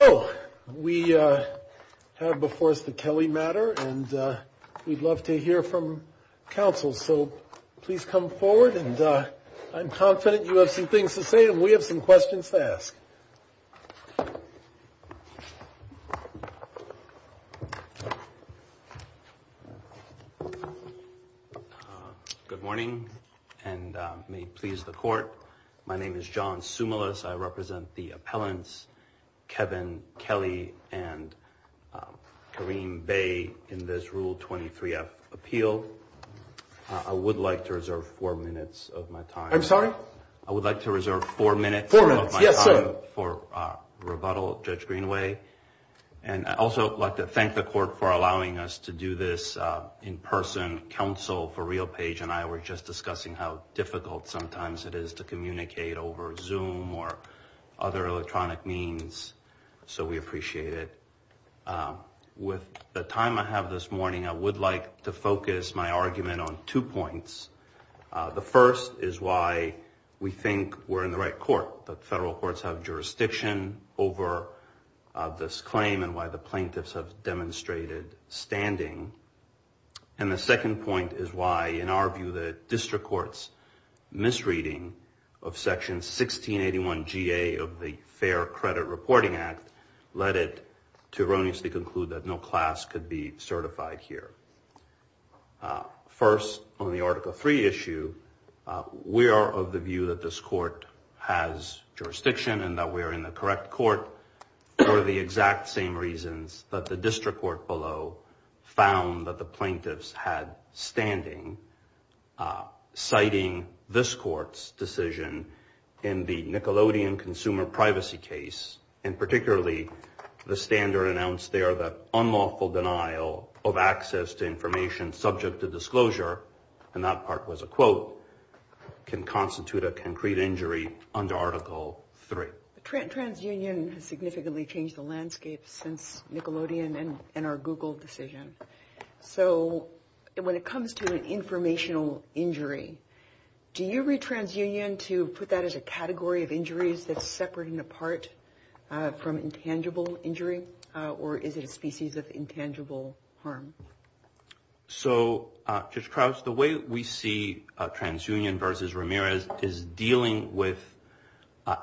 Oh, we have before us the Kelly matter and we'd love to hear from counsel. So please come forward and I'm confident you have some things to say and we have some questions to ask. Good morning, and may please the court. My name is John stimulus. I represent the appellants. Kevin Kelly and Kareem Bay in this rule 23 F appeal. I would like to reserve four minutes of my time. I'm sorry. I would like to reserve four minutes for rebuttal. Judge Greenway. And I also like to thank the court for allowing us to do this in person counsel for real page. Kareem and I were just discussing how difficult sometimes it is to communicate over zoom or other electronic means. So we appreciate it. With the time I have this morning, I would like to focus my argument on two points. The first is why we think we're in the right court, but federal courts have jurisdiction over this claim and why the plaintiffs have demonstrated standing. And the second point is why, in our view, that district courts misreading of section 1681 GA of the Fair Credit Reporting Act led it to erroneously conclude that no class could be certified here. First, on the article three issue, we are of the view that this court has jurisdiction and that we're in the correct court for the exact same reasons that the district court below found that the plaintiffs had standing. Siting this court's decision in the Nickelodeon Consumer Privacy case, and particularly the standard announced there that unlawful denial of access to information subject to disclosure, and that part was a quote, can constitute a concrete injury under article three. TransUnion has significantly changed the landscape since Nickelodeon and our Google decision. So when it comes to an informational injury, do you read TransUnion to put that as a category of injuries that's separating apart from intangible injury or is it a species of intangible harm? So, Judge Krauss, the way we see TransUnion versus Ramirez is dealing with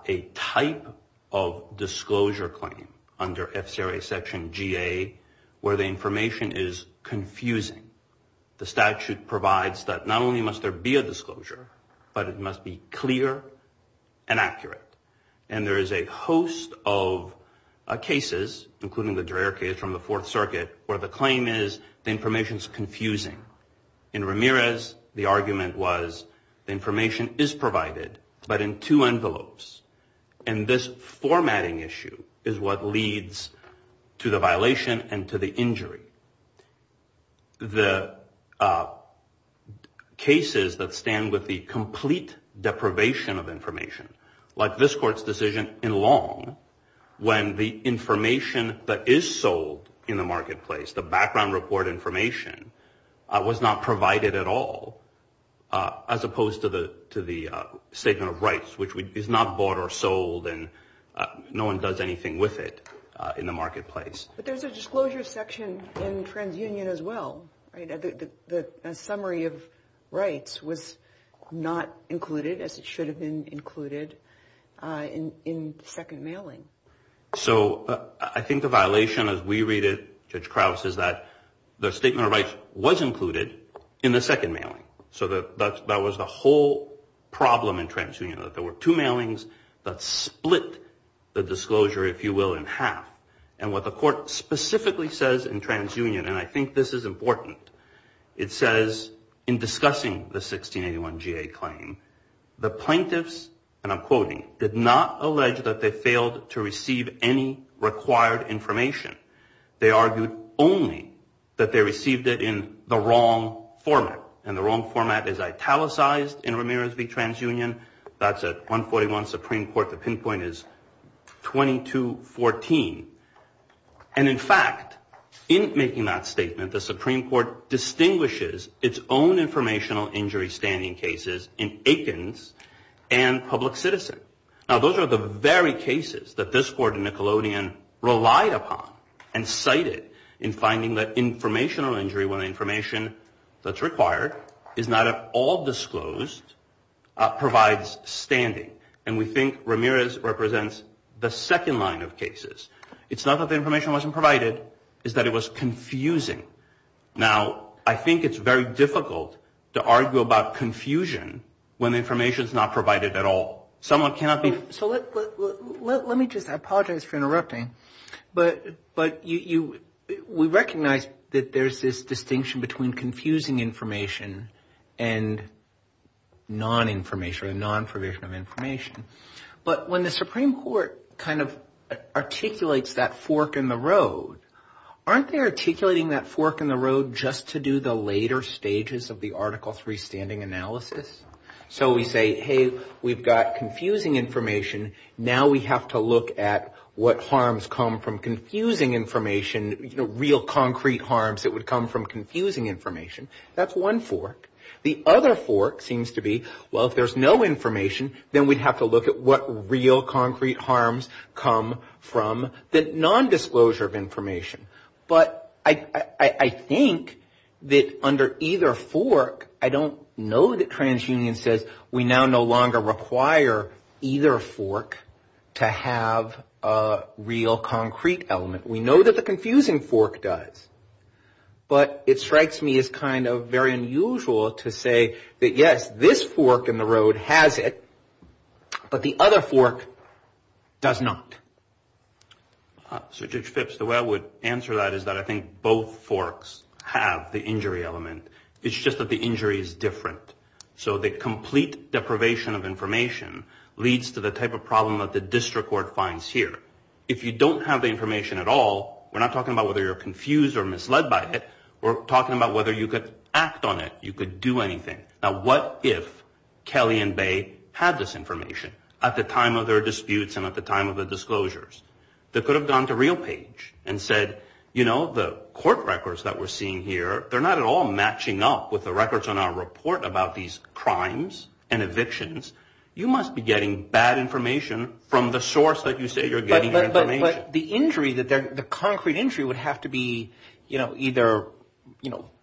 a type of disclosure claim under FCRA section GA where the information is confusing. The statute provides that not only must there be a disclosure, but it must be clear and accurate. And there is a host of cases, including the Dreher case from the Fourth Circuit, where the claim is the information is confusing. In Ramirez, the argument was the information is provided, but in two envelopes. And this formatting issue is what leads to the violation and to the injury. The cases that stand with the complete deprivation of information, like this court's decision in Long, when the information that is sold in the marketplace, the background report information, was not provided at all, as opposed to the statement of rights, which is not bought or sold and no one does anything with it in the marketplace. But there's a disclosure section in TransUnion as well, right? The summary of rights was not included, as it should have been included, in the second mailing. So, I think the violation, as we read it, Judge Krauss, is that the statement of rights was included in the second mailing. So that was the whole problem in TransUnion, that there were two mailings that split the disclosure, if you will, in half. And what the court specifically says in TransUnion, and I think this is important, it says in discussing the 1681 GA claim, the plaintiffs, and I'm quoting, did not allege that they failed to receive any required information. They argued only that they received it in the wrong format, and the wrong format is italicized in Ramirez v. TransUnion. That's at 141 Supreme Court, the pinpoint is 2214. And in fact, in making that statement, the Supreme Court distinguishes its own informational injury standing cases in Aikens and Public Citizen. Now, those are the very cases that this court in Nickelodeon relied upon and cited in finding that informational injury, when the information that's required is not at all disclosed, provides standing. And we think Ramirez represents the second line of cases. It's not that the information wasn't provided, it's that it was confusing. Now, I think it's very difficult to argue about confusion when the information is not provided at all. So let me just, I apologize for interrupting, but we recognize that there's this distinction between confusing information and non-information, or non-provision of information. But when the Supreme Court kind of articulates that fork in the road, aren't they articulating that fork in the road just to do the later stages of the Article III standing analysis? So we say, hey, we've got confusing information, now we have to look at what harms come from confusing information, you know, real concrete harms that would come from confusing information. That's one fork. The other fork seems to be, well, if there's no information, then we'd have to look at what real concrete harms come from the non-disclosure of information. But I think that under either fork, I don't know that TransUnion says we now no longer require either fork to have a real concrete element. We know that the confusing fork does. But it strikes me as kind of very unusual to say that, yes, this fork in the road has it, but the other fork does not. So Judge Phipps, the way I would answer that is that I think both forks have the injury element. It's just that the injury is different. So the complete deprivation of information leads to the type of problem that the district court finds here. If you don't have the information at all, we're not talking about whether you're confused or misled by it. We're talking about whether you could act on it, you could do anything. Now, what if Kelly and Bay had this information at the time of their disputes and at the time of their disclosures? They could have gone to RealPage and said, you know, the court records that we're seeing here, they're not at all matching up with the records on our report about these crimes and evictions. You must be getting bad information from the source that you say you're getting your information. But the injury, the concrete injury would have to be either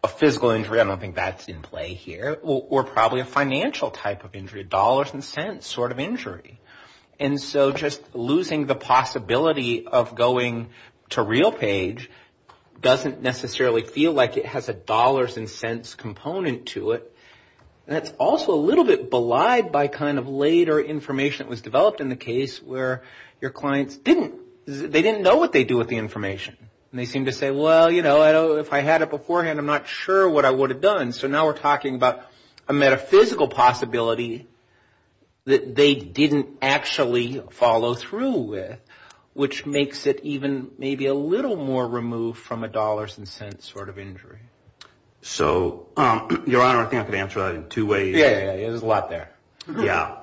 a physical injury. I don't think that's in play here. Or probably a financial type of injury, a dollars and cents sort of injury. And so just losing the possibility of going to RealPage doesn't necessarily feel like it has a dollars and cents component to it. And it's also a little bit belied by kind of later information that was developed in the case where your clients didn't, they didn't know what they do with the information. And they seem to say, well, you know, if I had it beforehand, I'm not sure what I would have done. So now we're talking about a metaphysical possibility that they didn't actually follow through with, which makes it even maybe a little more removed from a dollars and cents sort of injury. So, Your Honor, I think I could answer that in two ways. Yeah, there's a lot there. Yeah.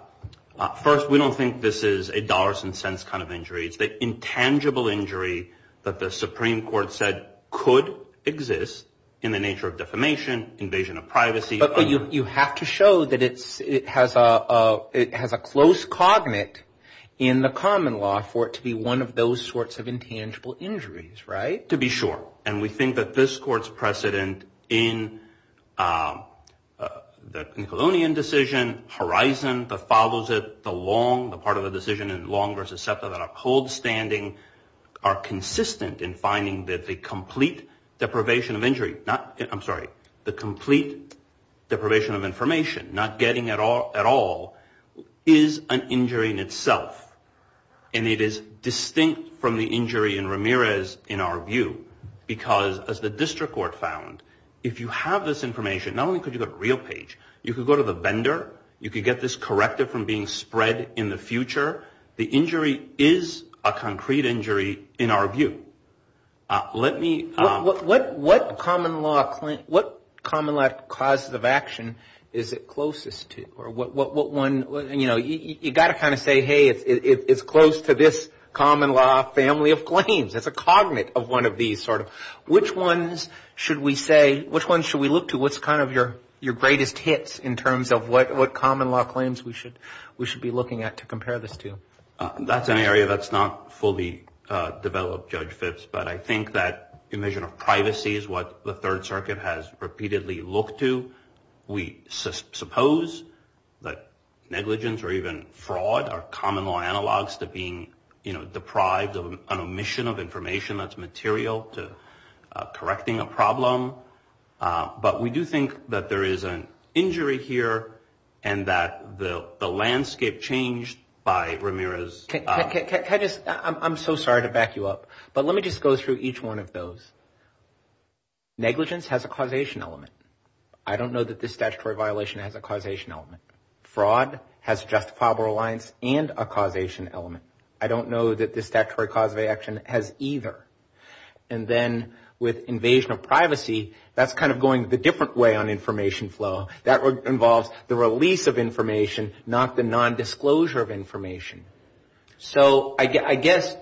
First, we don't think this is a dollars and cents kind of injury. It's the intangible injury that the Supreme Court said could exist in the nature of defamation, invasion of privacy. But you have to show that it has a close cognate in the common law for it to be one of those sorts of intangible injuries, right? To be sure. And we think that this court's precedent in the Nickelodeon decision, horizon that follows it, the long, the part of the decision that is longer is acceptable to uphold standing, are consistent in finding that the complete deprivation of injury, not, I'm sorry, the complete deprivation of information, not getting at all, is an injury in itself. And it is distinct from the injury in Ramirez in our view, because as the district court found, if you have this information, not only could you go to the real page, you could go to the vendor, you could get this corrected from being spread in the future. The injury is a concrete injury in our view. Let me... What common law, what common law cause of action is it closest to? You know, you've got to kind of say, hey, it's close to this common law family of claims. It's a cognate of one of these sort of... Which ones should we say, which ones should we look to, what's kind of your greatest hits in terms of what common law claims we should be looking at to compare this to? That's an area that's not fully developed, Judge Fitz, but I think that the measure of privacy is what the Third Circuit has repeatedly looked to. We suppose that negligence or even fraud are common law analogs to being, you know, deprived of an omission of information that's material to correcting a problem. But we do think that there is an injury here and that the landscape changed by Ramirez... Can I just... I'm so sorry to back you up, but let me just go through each one of those. Negligence has a causation element. I don't know that this statutory violation has a causation element. Fraud has justifiable reliance and a causation element. I don't know that this statutory cause of action has either. And then with invasion of privacy, that's kind of going the different way on information flow. That involves the release of information, not the nondisclosure of information. So I guess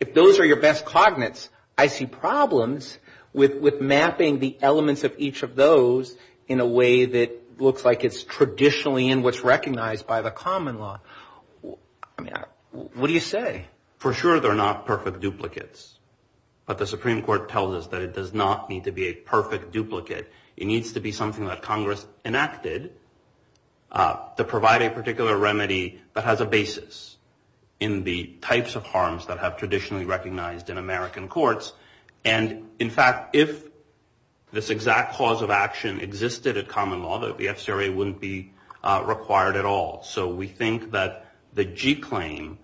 if those are your best cognates, I see problems with mapping the elements of each of those in a way that looks like it's traditionally in what's recognized by the common law. What do you say? For sure, they're not perfect duplicates. But the Supreme Court tells us that it does not need to be a perfect duplicate. It needs to be something that Congress enacted to provide a particular remedy that has a basis in the types of harms that have traditionally recognized in American courts. And in fact, if this exact cause of action existed at common law, the FCRA wouldn't be required at all. So we think that the G claim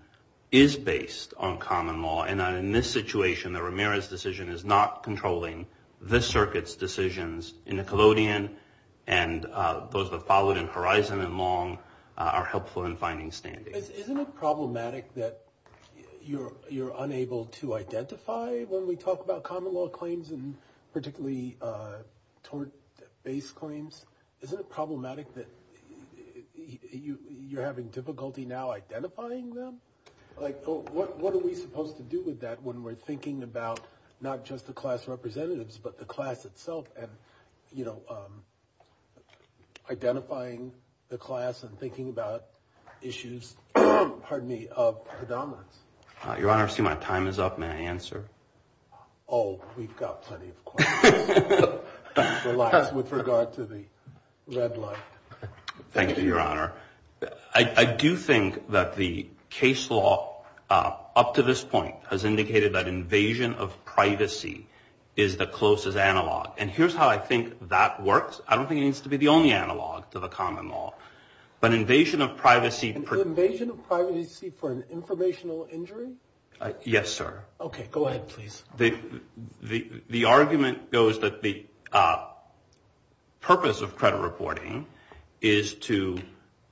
is based on common law. And in this situation, the Ramirez decision is not controlling this circuit's decisions in the collodion. And those that followed in Horizon and Long are helpful in finding standings. Isn't it problematic that you're unable to identify when we talk about common law claims, and particularly tort-based claims? Isn't it problematic that you're having difficulty now identifying them? What are we supposed to do with that when we're thinking about not just the class representatives, but the class itself, and identifying the class and thinking about issues of predominance? Your Honor, I see my time is up. May I answer? Oh, we've got plenty of time. Thanks a lot with regard to the red line. Thank you, Your Honor. I do think that the case law up to this point has indicated that invasion of privacy is the closest analog. And here's how I think that works. I don't think it needs to be the only analog to the common law. But invasion of privacy... Invasion of privacy for an informational injury? Yes, sir. Okay, go ahead, please. The argument goes that the purpose of credit reporting is to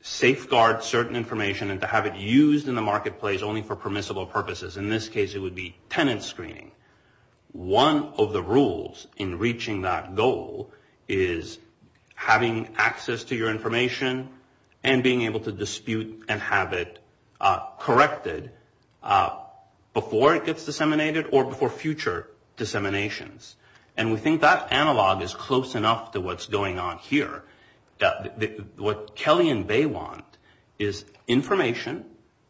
safeguard certain information and to have it used in the marketplace only for permissible purposes. In this case, it would be tenant screening. One of the rules in reaching that goal is having access to your information and being able to dispute and have it corrected before it gets disseminated or before future disseminations. And we think that analog is close enough to what's going on here. What Kelly and Bay want is information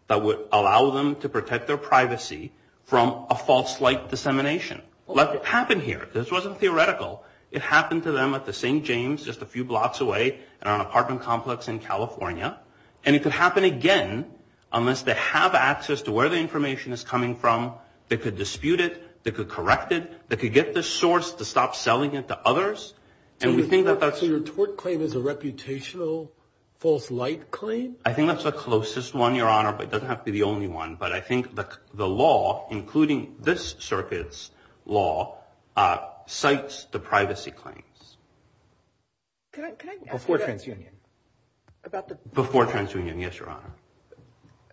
that would allow them to protect their privacy from a false light dissemination. Let it happen here. This wasn't theoretical. It happened to them at the St. James just a few blocks away in an apartment complex in California. And it could happen again unless they have access to where the information is coming from. They could dispute it. They could correct it. They could get the source to stop selling it to others. And we think that that's... So your tort claim is a reputational false light claim? I think that's the closest one, Your Honor, but it doesn't have to be the only one. But I think the law, including this circuit's law, cites the privacy claims. Before TransUnion. Before TransUnion, yes, Your Honor.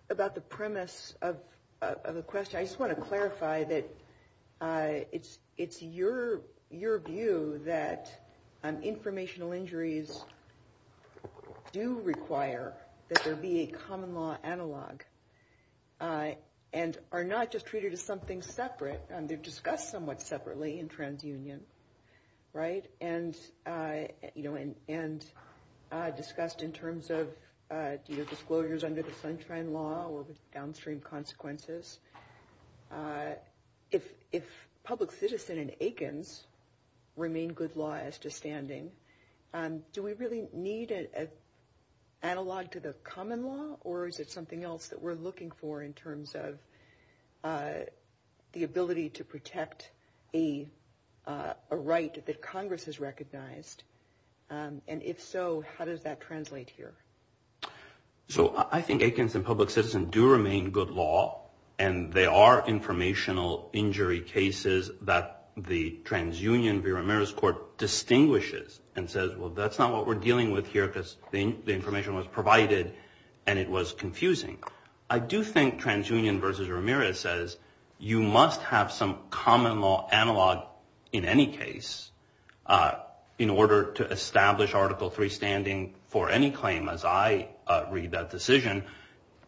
About the premise of the question, I just want to clarify that it's your view that informational injuries do require that there be a common law analog. And are not just treated as something separate. They've discussed somewhat separately in TransUnion, right? And discussed in terms of disclosures under the Sunshine Law or the downstream consequences. If public citizen and Aikens remain good law as to standing, do we really need an analog to the common law? Or is it something else that we're looking for in terms of the ability to protect a right that Congress has recognized? And if so, how does that translate here? So I think Aikens and public citizen do remain good law. And there are informational injury cases that the TransUnion v. Ramirez Court distinguishes and says, well, that's not what we're dealing with here because the information was provided and it was confusing. I do think TransUnion v. Ramirez says you must have some common law analog in any case in order to establish Article III standing for any claim as I read that decision.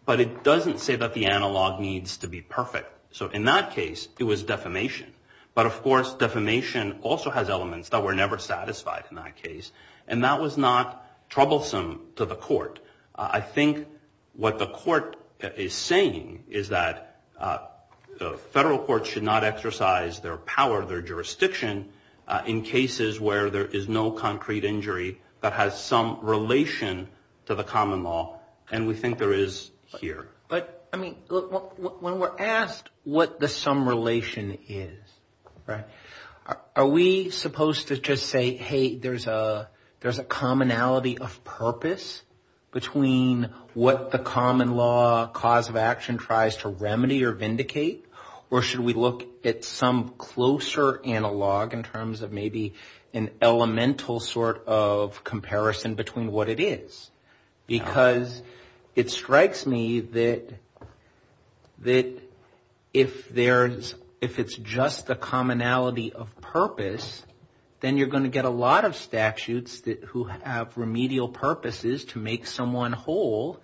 But it doesn't say that the analog needs to be perfect. So in that case, it was defamation. But, of course, defamation also has elements that were never satisfied in that case. And that was not troublesome to the court. I think what the court is saying is that federal courts should not exercise their power, their jurisdiction, in cases where there is no concrete injury that has some relation to the common law. And we think there is here. But, I mean, when we're asked what the sum relation is, right, are we supposed to just say, hey, there's a commonality of purpose between what the common law cause of action tries to remedy or vindicate? Or should we look at some closer analog in terms of maybe an elemental sort of comparison between what it is? Because it strikes me that if it's just the commonality of purpose, then you're going to get a lot of statutes who have remedial purposes to make someone whole.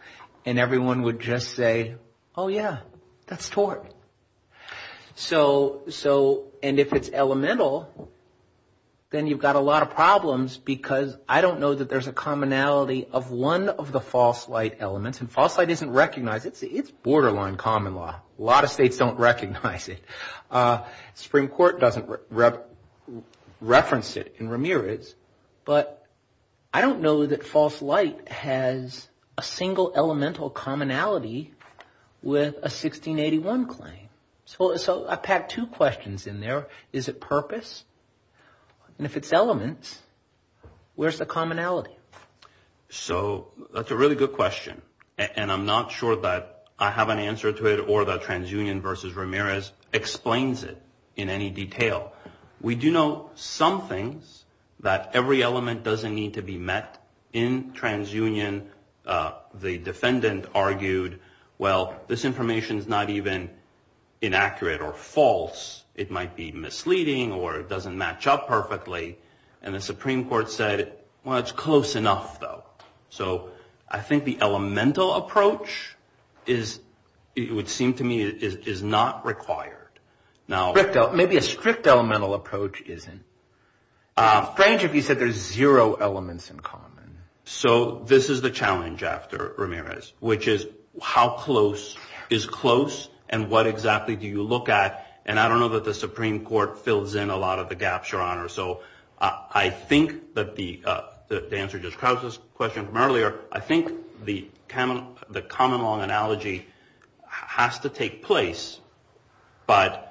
And everyone would just say, oh, yeah, that's tort. And if it's elemental, then you've got a lot of problems because I don't know that there's a commonality of one of the false light elements. And false light isn't recognized. It's borderline common law. A lot of states don't recognize it. The Supreme Court doesn't reference it in Ramirez. But I don't know that false light has a single elemental commonality with a 1681 claim. So I've had two questions in there. Is it purpose? And if it's elements, where's the commonality? So that's a really good question. And I'm not sure that I have an answer to it or that TransUnion versus Ramirez explains it in any detail. We do know some things that every element doesn't need to be met. In TransUnion, the defendant argued, well, this information is not even inaccurate or false. It might be misleading or it doesn't match up perfectly. And the Supreme Court said, well, it's close enough, though. So I think the elemental approach, it would seem to me, is not required. Maybe a strict elemental approach isn't. It would be strange if you said there's zero elements in common. So this is the challenge after Ramirez, which is how close is close and what exactly do you look at? And I don't know that the Supreme Court fills in a lot of the gaps, Your Honor. So I think that the answer to Krauss's question from earlier, I think the common law analogy has to take place. But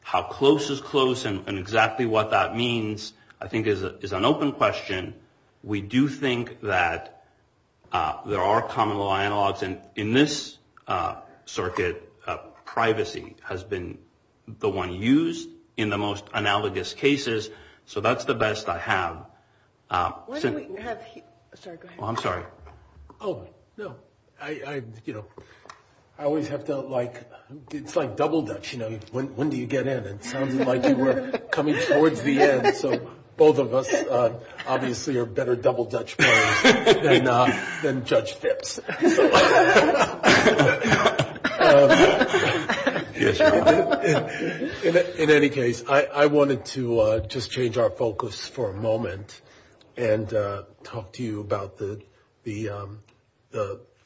how close is close and exactly what that means, I think, is an open question. We do think that there are common law analogs. In this circuit, privacy has been the one used in the most analogous cases. So that's the best I have. I'm sorry. Oh, no. You know, I always have felt like it's like double dutch, you know, when do you get in? It sounds like we're coming towards the end. So both of us obviously are better double dutch players than Judge Dips. In any case, I wanted to just change our focus for a moment and talk to you about the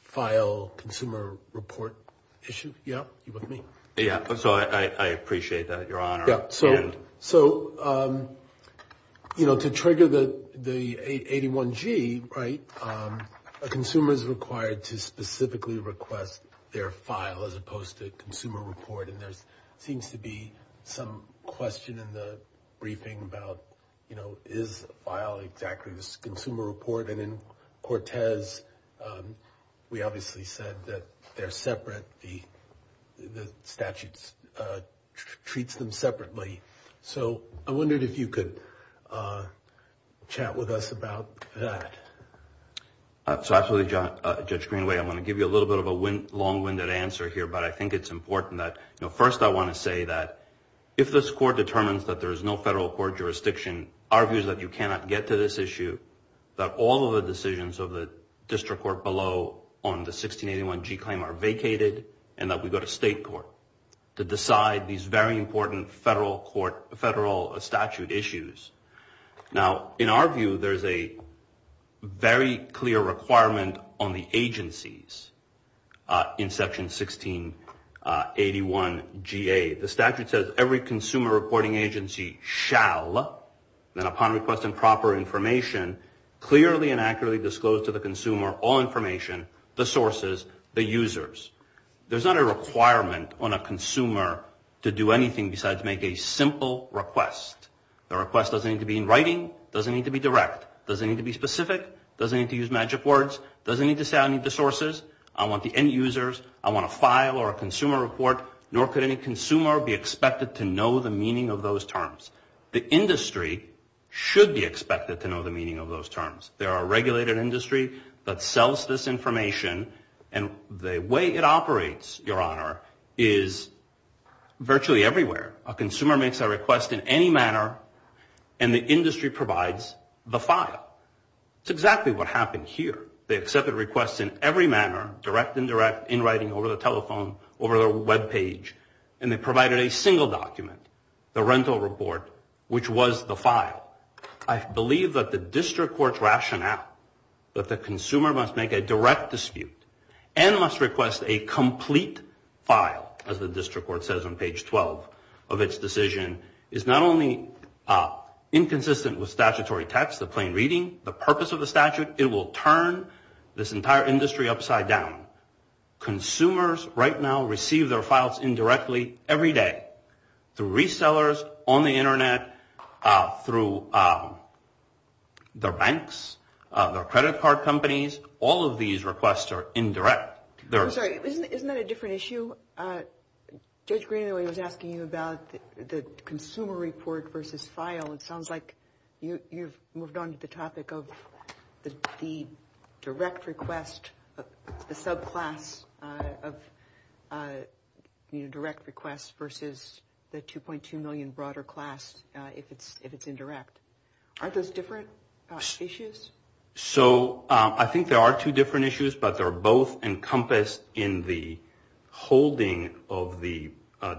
file consumer report issue. Yeah. Yeah. So, you know, to trigger the 81-G, right, a consumer is required to specifically request their file as opposed to consumer report. And there seems to be some question in the briefing about, you know, is a file exactly a consumer report? And in Cortez, we obviously said that they're separate. The statute treats them separately. So I wondered if you could chat with us about that. So absolutely, Judge Greenaway. I'm going to give you a little bit of a long-winded answer here, but I think it's important that, you know, first I want to say that if this court determines that there is no federal court jurisdiction, argues that you cannot get to this issue, that all of the decisions of the district court below on the 1681-G claim are vacated, and that we go to state court to decide these very important federal statute issues. Now, in our view, there's a very clear requirement on the agencies in Section 1681-GA. The statute says every consumer reporting agency shall, then upon requesting proper information, clearly and accurately disclose to the consumer all information, the sources, the users. There's not a requirement on a consumer to do anything besides make a simple request. The request doesn't need to be in writing. It doesn't need to be direct. It doesn't need to be specific. It doesn't need to use magic words. It doesn't need to say I need the sources. I want the end users. I want a file or a consumer report. Nor could any consumer be expected to know the meaning of those terms. The industry should be expected to know the meaning of those terms. There are regulated industries that sells this information, and the way it operates, Your Honor, is virtually everywhere. A consumer makes a request in any manner, and the industry provides the file. It's exactly what happened here. They accepted requests in every manner, direct and indirect, in writing, over the telephone, over the webpage, and they provided a single document, the rental report, which was the file. I believe that the district court's rationale that the consumer must make a direct dispute and must request a complete file, as the district court says on page 12 of its decision, is not only inconsistent with statutory text, the plain reading, the purpose of the statute, it will turn this entire industry upside down. Consumers right now receive their files indirectly every day through resellers, on the Internet, through their banks, their credit card companies. All of these requests are indirect. I'm sorry, isn't that a different issue? Judge Greenaway was asking you about the consumer report versus file, and it sounds like you've moved on to the topic of the direct request, the subclass of the indirect request versus the $2.2 million broader class if it's indirect. Are those different issues? I think there are two different issues, but they're both encompassed in the holding of the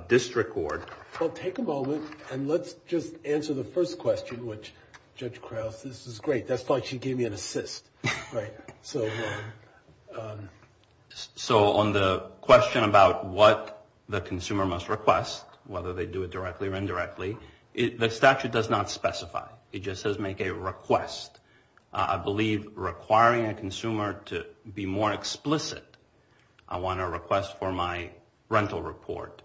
district court. Well, take a moment and let's just answer the first question, which, Judge Krause, this is great. That's why she gave me an assist. So on the question about what the consumer must request, whether they do it directly or indirectly, the statute does not specify. It just says make a request. I believe requiring a consumer to be more explicit, I want a request for my rental report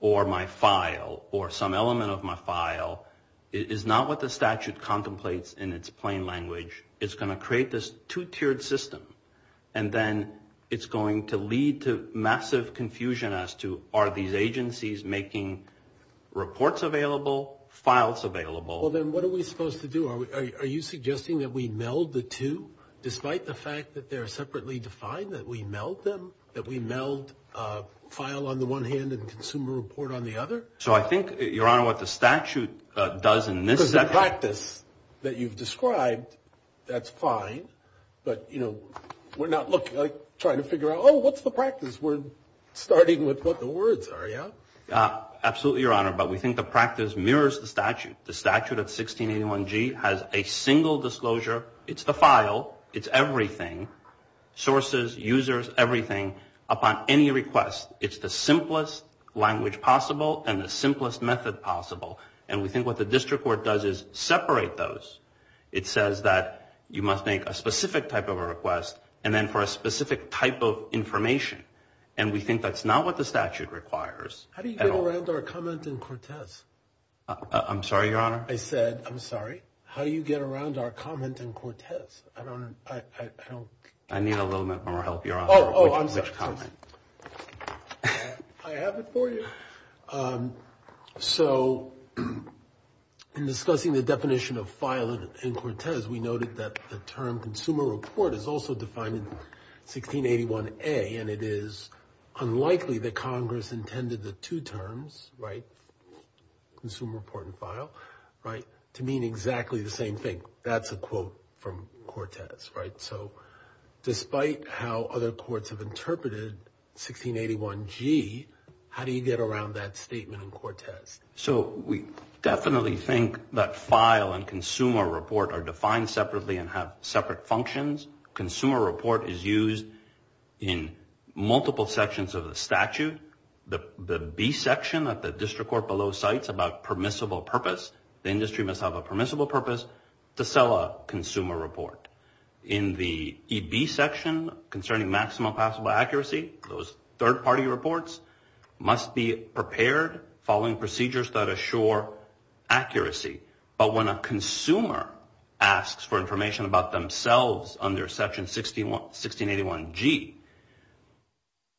or my file or some element of my file, is not what the statute contemplates in its plain language. It's going to create this two-tiered system, and then it's going to lead to massive confusion as to are these agencies making reports available, files available? Well, then what are we supposed to do? Are you suggesting that we meld the two, despite the fact that they're separately defined, that we meld them, that we meld file on the one hand and consumer report on the other? So I think, Your Honor, what the statute does in this definition— Because the practice that you've described, that's fine, but, you know, we're not trying to figure out, oh, what's the practice? We're starting with what the words are, yeah? The statute of 1681G has a single disclosure. It's the file. It's everything—sources, users, everything—upon any request. It's the simplest language possible and the simplest method possible, and we think what the district court does is separate those. It says that you must make a specific type of a request and then for a specific type of information, and we think that's not what the statute requires at all. How do you get around our comment in Cortez? I'm sorry, Your Honor? I said, I'm sorry? How do you get around our comment in Cortez? I don't— I need a little bit more help, Your Honor. Oh, oh, I'm sorry. Which comment? I have it for you. So in discussing the definition of file in Cortez, we noted that the term consumer report is also defined in 1681A, and it is unlikely that Congress intended the two terms, right, consumer report and file, right, to mean exactly the same thing. That's a quote from Cortez, right? So despite how other courts have interpreted 1681G, how do you get around that statement in Cortez? So we definitely think that file and consumer report are defined separately and have separate functions. Consumer report is used in multiple sections of the statute. The B section that the district court below cites about permissible purpose, the industry must have a permissible purpose to sell a consumer report. In the EB section concerning maximum possible accuracy, those third-party reports must be prepared following procedures that assure accuracy. But when a consumer asks for information about themselves under section 1681G,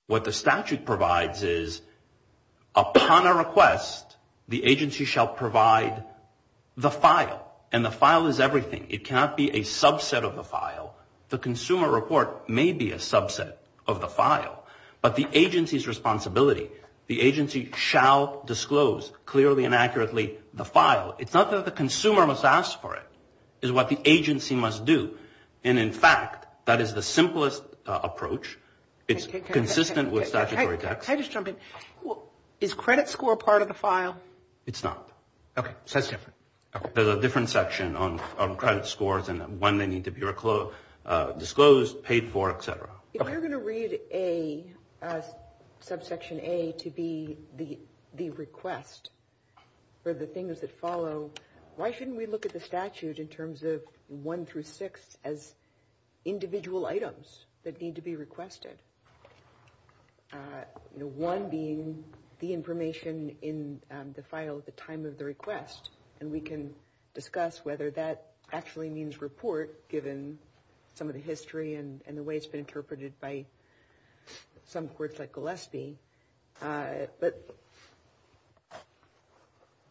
what the statute provides is upon a request, the agency shall provide the file, and the file is everything. It cannot be a subset of the file. The consumer report may be a subset of the file, but the agency's responsibility, the agency shall disclose clearly and accurately the file. It's not that the consumer must ask for it. It's what the agency must do. And in fact, that is the simplest approach. It's consistent with statutory... Can I just jump in? Is credit score part of the file? It's not. Okay. So it's different. There's a different section on credit scores and when they need to be disclosed, paid for, et cetera. If you're going to read subsection A to be the request for the things that follow, why shouldn't we look at the statute in terms of one through six as individual items that need to be requested? One being the information in the file at the time of the request, and we can discuss whether that actually means report given some of the history and the way it's been interpreted by some courts like Gillespie. But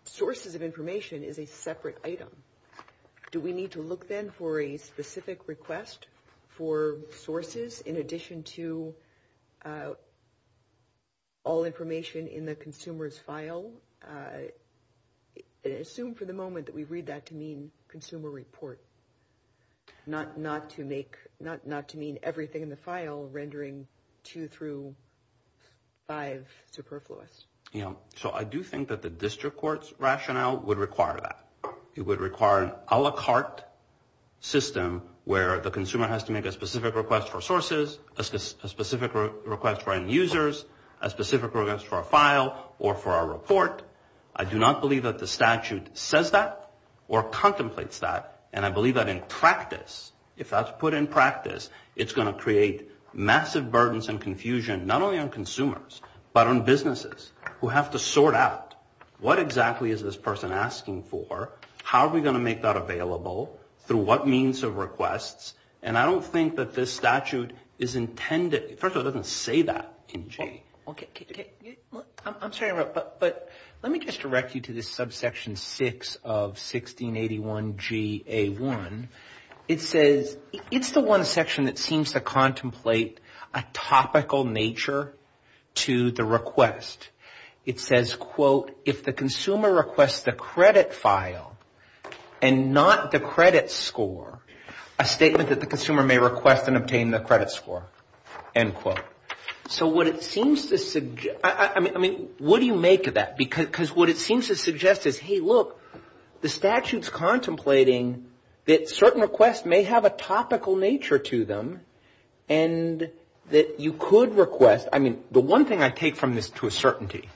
sources of information is a separate item. Do we need to look then for a specific request for sources in addition to all information in the consumer's file? Assume for the moment that we read that to mean consumer report, not to mean everything in the file rendering two through five superfluous. So I do think that the district court's rationale would require that. It would require an a la carte system where the consumer has to make a specific request for sources, a specific request for end users, a specific request for a file or for a report. I do not believe that the statute says that or contemplates that. And I believe that in practice, if that's put in practice, it's going to create massive burdens and confusion, not only on consumers, but on businesses who have to sort out what exactly is this person asking for, how are we going to make that available, through what means of requests. And I don't think that this statute is intended, first of all, it doesn't say that. I'm sorry, but let me just direct you to this subsection 6 of 1681 G.A. 1. It says, it's the one section that seems to contemplate a topical nature to the request. It says, quote, if the consumer requests the credit file and not the credit score, a statement that the consumer may request and obtain the credit score, end quote. So, what it seems to suggest, I mean, what do you make of that? Because what it seems to suggest is, hey, look, the statute's contemplating that certain requests may have a topical nature to them and that you could request, I mean, the one thing I take from this to a certainty,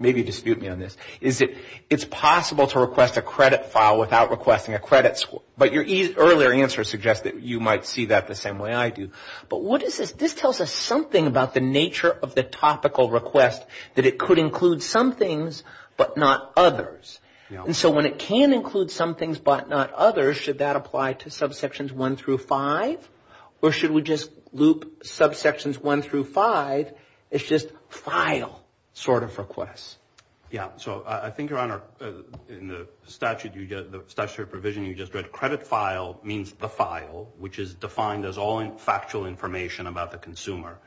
maybe dispute me on this, is that it's possible to request a credit file without requesting a credit score. But your earlier answer suggests that you might see that the same way I do. But what is this? This tells us something about the nature of the topical request, that it could include some things but not others. And so when it can include some things but not others, should that apply to subsections 1 through 5? Or should we just loop subsections 1 through 5 as just file sort of requests? Yeah. So, I think, Your Honor, in the statute provision you just read, credit file means the file, which is defined as all factual information about the consumer.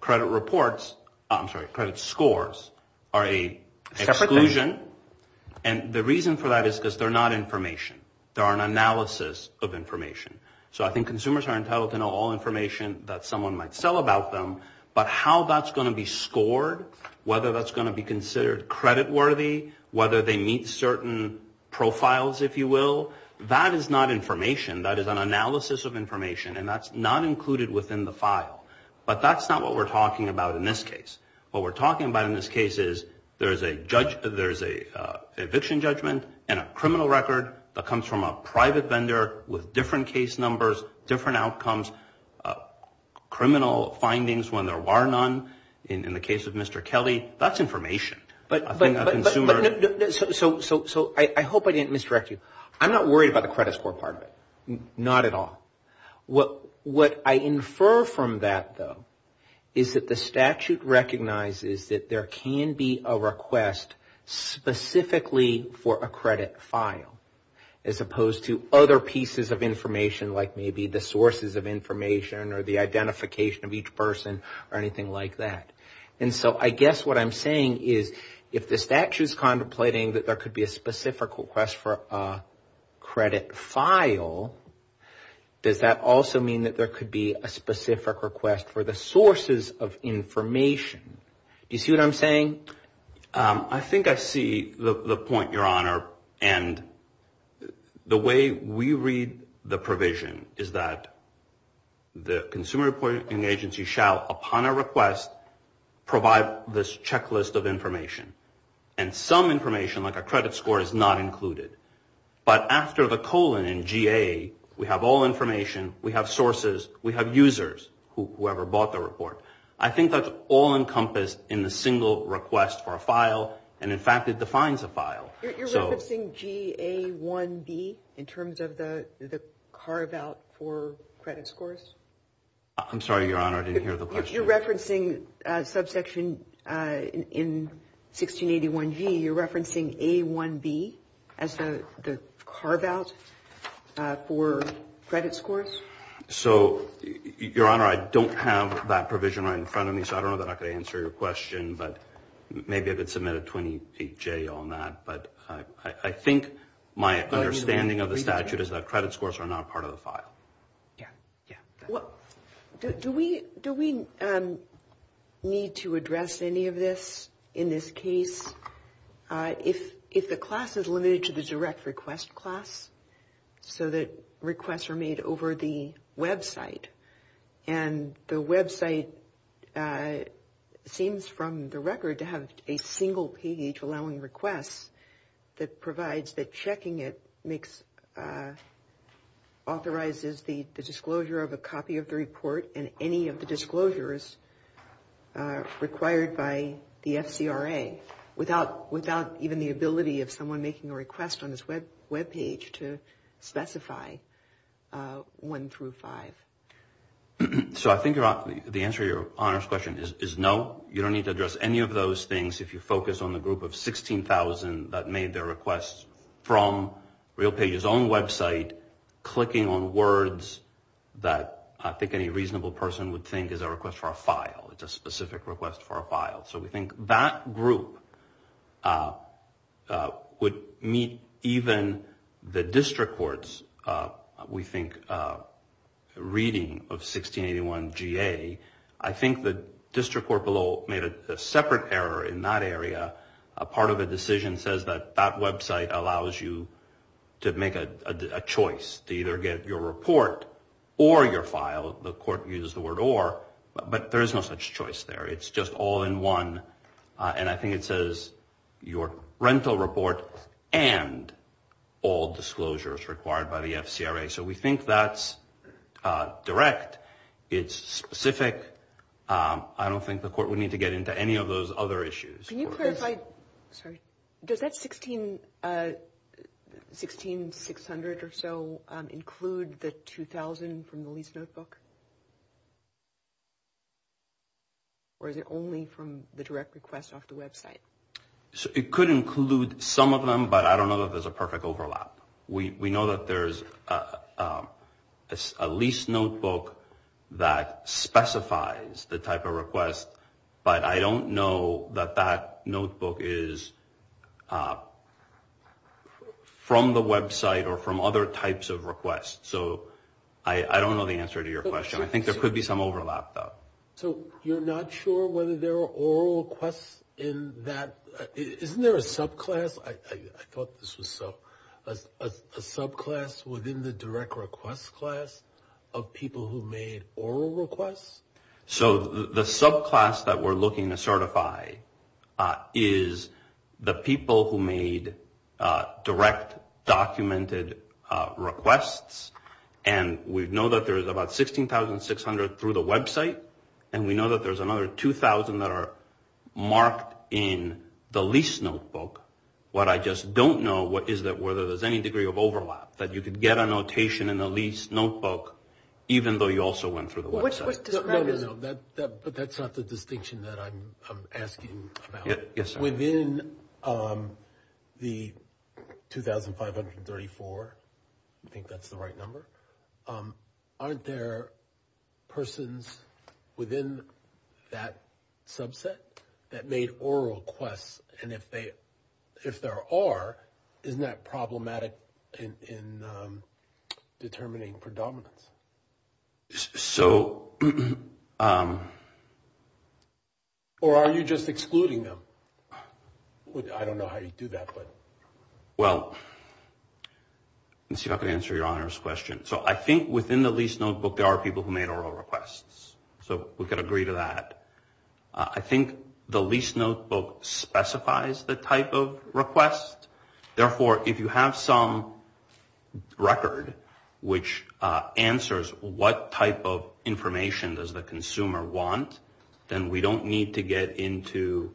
Credit reports, I'm sorry, credit scores are an exclusion. And the reason for that is because they're not information. They are an analysis of information. So, I think consumers are entitled to know all information that someone might sell about them, but how that's going to be scored, whether that's going to be considered creditworthy, whether they meet certain profiles, if you will, that is not information. That is an analysis of information, and that's not included within the file. But that's not what we're talking about in this case. What we're talking about in this case is there's an eviction judgment and a criminal record that comes from a private vendor with different case numbers, different outcomes, criminal findings when there are none. In the case of Mr. Kelly, that's information. So, I hope I didn't misdirect you. I'm not worried about the credit score part of it. Not at all. What I infer from that, though, is that the statute recognizes that there can be a request specifically for a credit file as opposed to other pieces of information like maybe the sources of information or the identification of each person or anything like that. And so, I guess what I'm saying is if the statute is contemplating that there could be a specific request for a credit file, does that also mean that there could be a specific request for the sources of information? Do you see what I'm saying? I think I see the point, Your Honor. And the way we read the provision is that the consumer reporting agency shall, upon a request, provide this checklist of information. And some information, like a credit score, is not included. But after the colon and GA, we have all information, we have sources, we have users, whoever bought the report. I think that's all encompassed in the single request for a file. And, in fact, it defines a file. You're referencing GA1B in terms of the carve-out for credit scores? I'm sorry, Your Honor. I didn't hear the question. You're referencing subsection in 1681G. You're referencing A1B as the carve-out for credit scores? So, Your Honor, I don't have that provision right in front of me, so I don't know that I could answer your question. But maybe I could submit a 28J on that. But I think my understanding of the statute is that credit scores are not part of the file. Yeah. Do we need to address any of this in this case? If the class is limited to the direct request class, so that requests are made over the website, and the website seems from the record to have a single page allowing requests that provides that checking it authorizes the disclosure of a copy of the report and any of the disclosures required by the FCRA, without even the ability of someone making a request on this webpage to specify 1 through 5? So I think the answer to Your Honor's question is no. You don't need to address any of those things if you focus on the group of 16,000 that made their request from RealPages' own website, clicking on words that I think any reasonable person would think is a request for a file, it's a specific request for a file. So we think that group would meet even the district court's, we think, reading of 1681 GA. I think the district court below made a separate error in that area. Part of the decision says that that website allows you to make a choice to either get your report or your file. The court uses the word or, but there is no such choice there. It's just all in one. And I think it says your rental report and all disclosures required by the FCRA. So we think that's direct. It's specific. I don't think the court would need to get into any of those other issues. Can you clarify, does that 16,600 or so include the 2,000 from the lease notebook? Or is it only from the direct request off the website? It could include some of them, but I don't know that there's a perfect overlap. We know that there's a lease notebook that specifies the type of request, but I don't know that that notebook is from the website or from other types of requests. So I don't know the answer to your question. I think there could be some overlap, though. So you're not sure whether there are oral requests in that? Isn't there a subclass? I thought this was a subclass within the direct request class of people who made oral requests? So the subclass that we're looking to certify is the people who made direct documented requests, and we know that there's about 16,600 through the website, and we know that there's another 2,000 that are marked in the lease notebook. What I just don't know is whether there's any degree of overlap, that you could get a notation in the lease notebook even though you also went through the website. No, no, no, that's not the distinction that I'm asking about. Within the 2,534, I think that's the right number, aren't there persons within that subset that made oral requests? And if there are, isn't that problematic in determining predominance? So... Or are you just excluding them? I don't know how you do that, but... Well, let me see if I can answer your Honor's question. So I think within the lease notebook there are people who made oral requests. So we could agree to that. I think the lease notebook specifies the type of request. Therefore, if you have some record which answers what type of information does the consumer want, then we don't need to get into,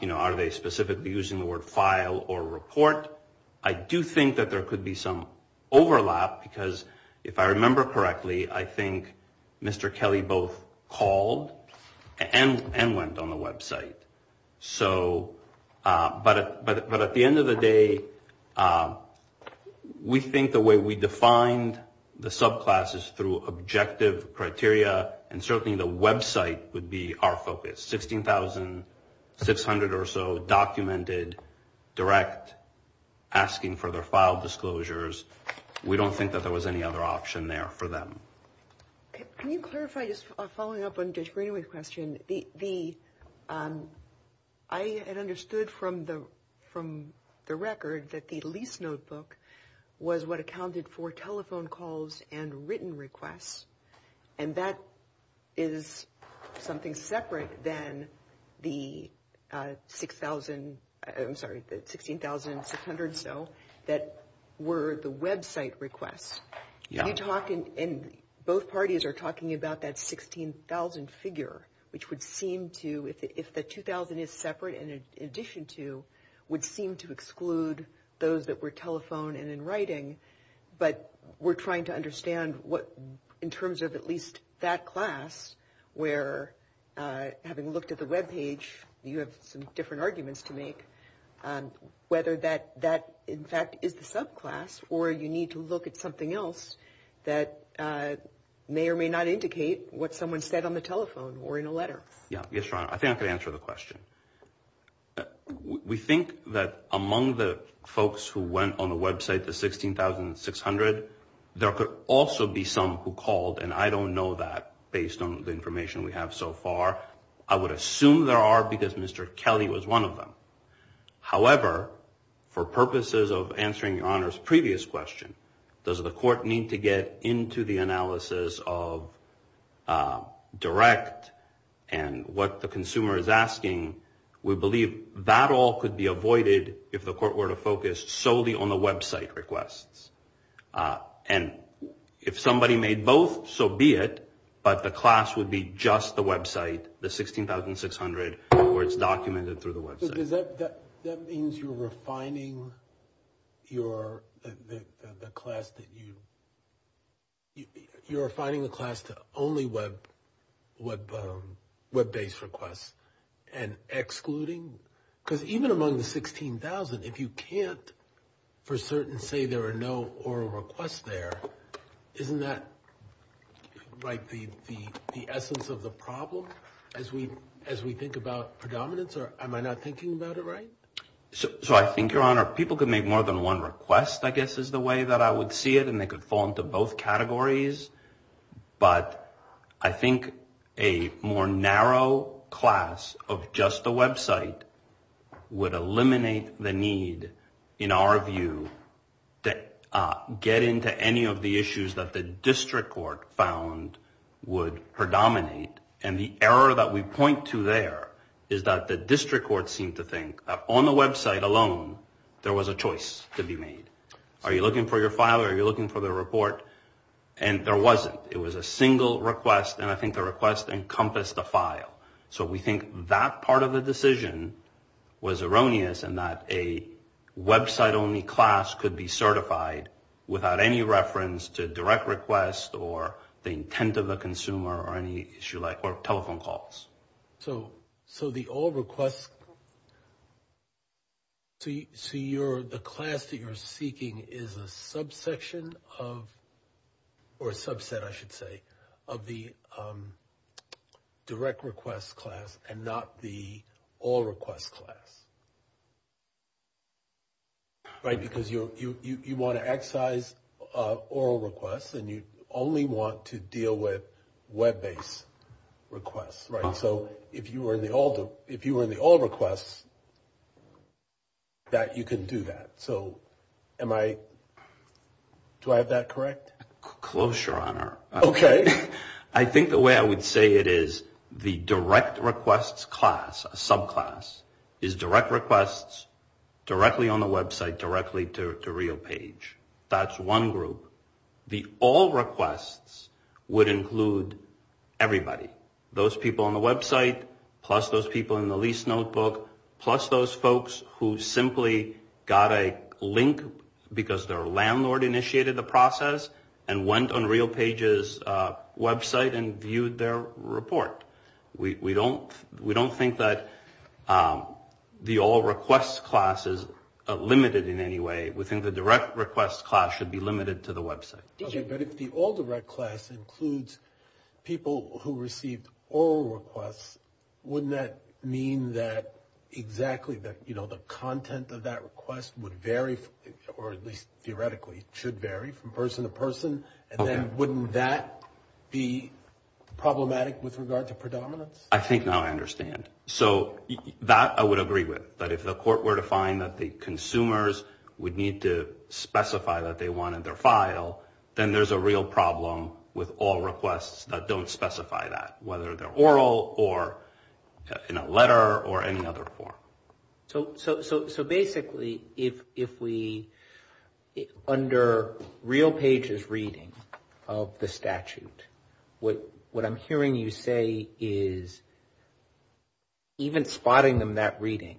you know, are they specifically using the word file or report. I do think that there could be some overlap, because if I remember correctly, I think Mr. Kelly both called and went on the website. So... But at the end of the day, we think the way we defined the subclasses through objective criteria and certainly the website would be our focus. 16,600 or so documented direct asking for their file disclosures. We don't think that there was any other option there for them. Can you clarify, just following up on Judge Greenway's question, I had understood from the record that the lease notebook was what accounted for telephone calls and written requests, and that is something separate than the 16,600 or so that were the website requests. Yeah. And both parties are talking about that 16,000 figure, which would seem to, if the 2,000 is separate in addition to, would seem to exclude those that were telephone and in writing. But we're trying to understand what, in terms of at least that class, where having looked at the webpage, you have some different arguments to make, whether that in fact is the subclass or you need to look at something else that may or may not indicate what someone said on the telephone or in a letter. Yeah, yes, Ron. I think I can answer the question. We think that among the folks who went on the website, the 16,600, there could also be some who called, and I don't know that based on the information we have so far. I would assume there are because Mr. Kelly was one of them. However, for purposes of answering your Honor's previous question, does the court need to get into the analysis of direct and what the consumer is asking, we believe that all could be avoided if the court were to focus solely on the website requests. And if somebody made both, so be it, but the class would be just the website, the 16,600 where it's documented through the website. That means you're refining the class to only web-based requests and excluding? Because even among the 16,000, if you can't for certain say there are no oral requests there, isn't that like the essence of the problem as we think about predominance? Am I not thinking about it right? So I think, Your Honor, people could make more than one request, I guess, is the way that I would see it, and they could fall into both categories. But I think a more narrow class of just the website would eliminate the need, in our view, to get into any of the issues that the district court found would predominate. And the error that we point to there is that the district court seemed to think that on the website alone, there was a choice to be made. Are you looking for your file or are you looking for the report? And there wasn't. It was a single request, and I think the request encompassed a file. So we think that part of the decision was erroneous in that a website-only class could be certified without any reference to direct requests or the intent of the consumer or any issue like telephone calls. So the all requests, so the class that you're seeking is a subsection of, or a subset, I should say, of the direct request class and not the all request class, right, because you want to excise oral requests and you only want to deal with web-based requests, right? So if you were in the all requests, you can do that. So do I have that correct? Close, Your Honor. Okay. I think the way I would say it is the direct request class, a subclass, is direct requests directly on the website, directly to a real page. That's one group. The all requests would include everybody, those people on the website, plus those people in the lease notebook, plus those folks who simply got a link because their landlord initiated the process and went on RealPage's website and viewed their report. We don't think that the all requests class is limited in any way. We think the direct request class should be limited to the website. Okay, but if the all direct class includes people who receive oral requests, wouldn't that mean that exactly the content of that request would vary, or at least theoretically should vary from person to person, and then wouldn't that be problematic with regard to predominance? I think now I understand. So that I would agree with. But if the court were to find that the consumers would need to specify that they wanted their file, then there's a real problem with all requests that don't specify that, whether they're oral or in a letter or any other form. So basically if we, under RealPage's reading of the statute, what I'm hearing you say is even spotting them that reading,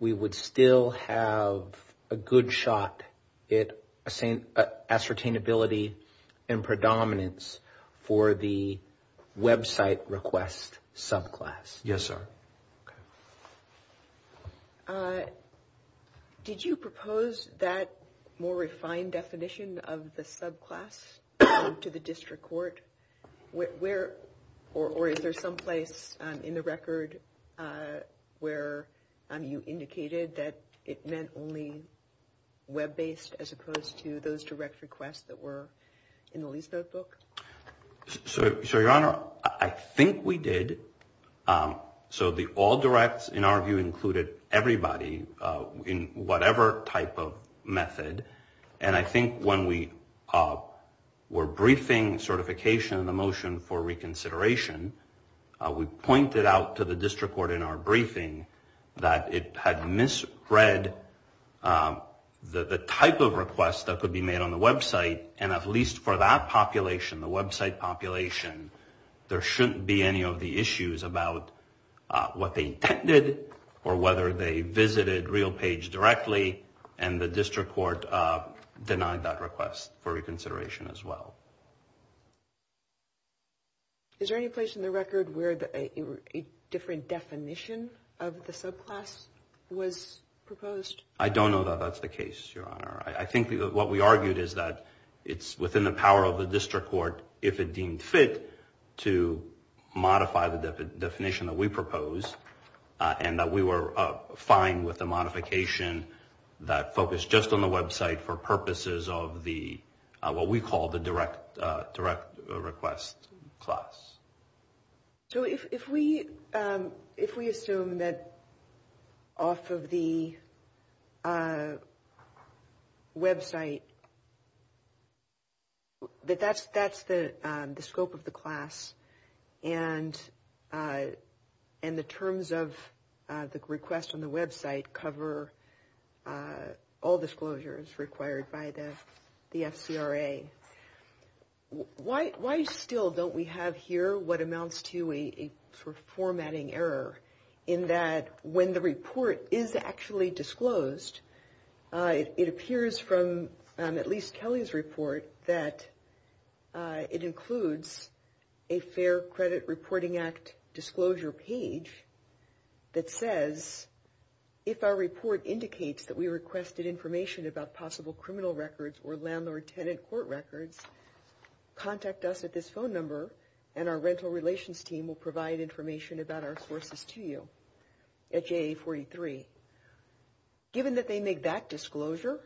we would still have a good shot at ascertainability and predominance for the website request subclass. Yes, sir. Okay. Did you propose that more refined definition of the subclass to the district court? Where or is there some place in the record where you indicated that it meant only web-based as opposed to those direct requests that were in the Lease Notebook? So, Your Honor, I think we did. So the all directs, in our view, included everybody in whatever type of method. And I think when we were briefing certification of the motion for reconsideration, we pointed out to the district court in our briefing that it had misread the type of request that could be made on the website, and at least for that population, the website population, there shouldn't be any of the issues about what they intended or whether they visited RealPage directly, and the district court denied that request for reconsideration as well. Is there any place in the record where a different definition of the subclass was proposed? I don't know that that's the case, Your Honor. I think what we argued is that it's within the power of the district court, if it deemed fit, to modify the definition that we proposed, and that we were fine with the modification that focused just on the website for purposes of what we call the direct request class. So if we assume that off of the website, that that's the scope of the class, and the terms of the request on the website cover all disclosures required by the SCRA, why still don't we have here what amounts to a formatting error in that when the report is actually disclosed, it appears from at least Kelly's report that it includes a Fair Credit Reporting Act disclosure page that says, if our report indicates that we requested information about possible criminal records or landlord-tenant court records, contact us at this phone number, and our rental relations team will provide information about our sources to you at JA 43. Given that they make that disclosure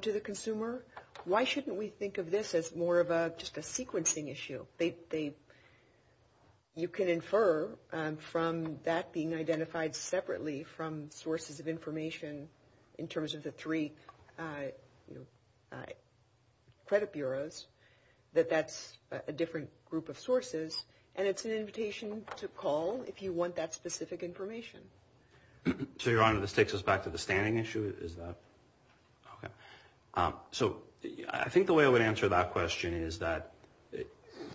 to the consumer, why shouldn't we think of this as more of just a sequencing issue? You can infer from that being identified separately from sources of information in terms of the three credit bureaus that that's a different group of sources, and it's an invitation to call if you want that specific information. So, Your Honor, this takes us back to the standing issue. So I think the way I would answer that question is that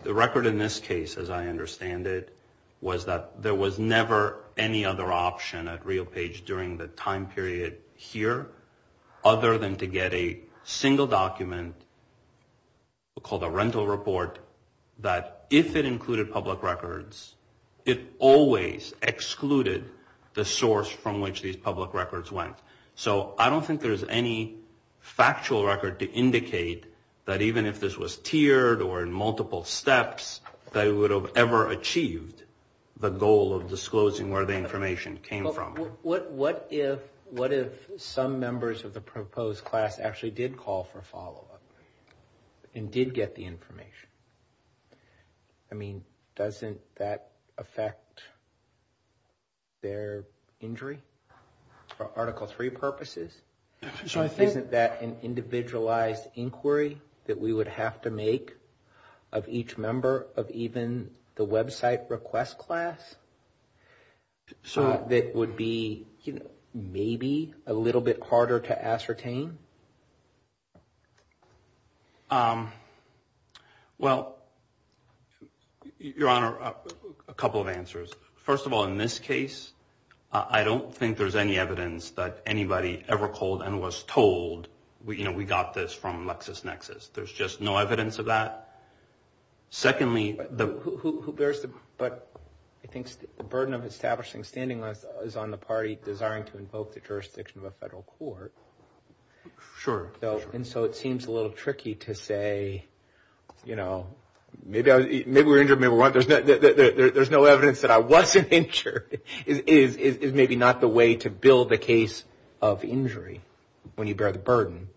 the record in this case, as I understand it, was that there was never any other option at RealPage during the time period here other than to get a single document called a rental report that if it included public records, it always excluded the source from which these public records went. So I don't think there's any factual record to indicate that even if this was tiered or in multiple steps, they would have ever achieved the goal of disclosing where the information came from. What if some members of the proposed class actually did call for follow-up and did get the information? I mean, doesn't that affect their injury for Article III purposes? So I think that an individualized inquiry that we would have to make of each member, of even the website request class, that would be maybe a little bit harder to ascertain? Well, Your Honor, a couple of answers. First of all, in this case, I don't think there's any evidence that anybody ever called and was told, you know, we got this from LexisNexis. There's just no evidence of that. Secondly, the burden of establishing standing is on the party desiring to invoke the jurisdiction of a federal court. Sure. And so it seems a little tricky to say, you know, maybe we were injured, maybe we weren't. There's no evidence that I wasn't injured is maybe not the way to build a case of injury when you bear the burden.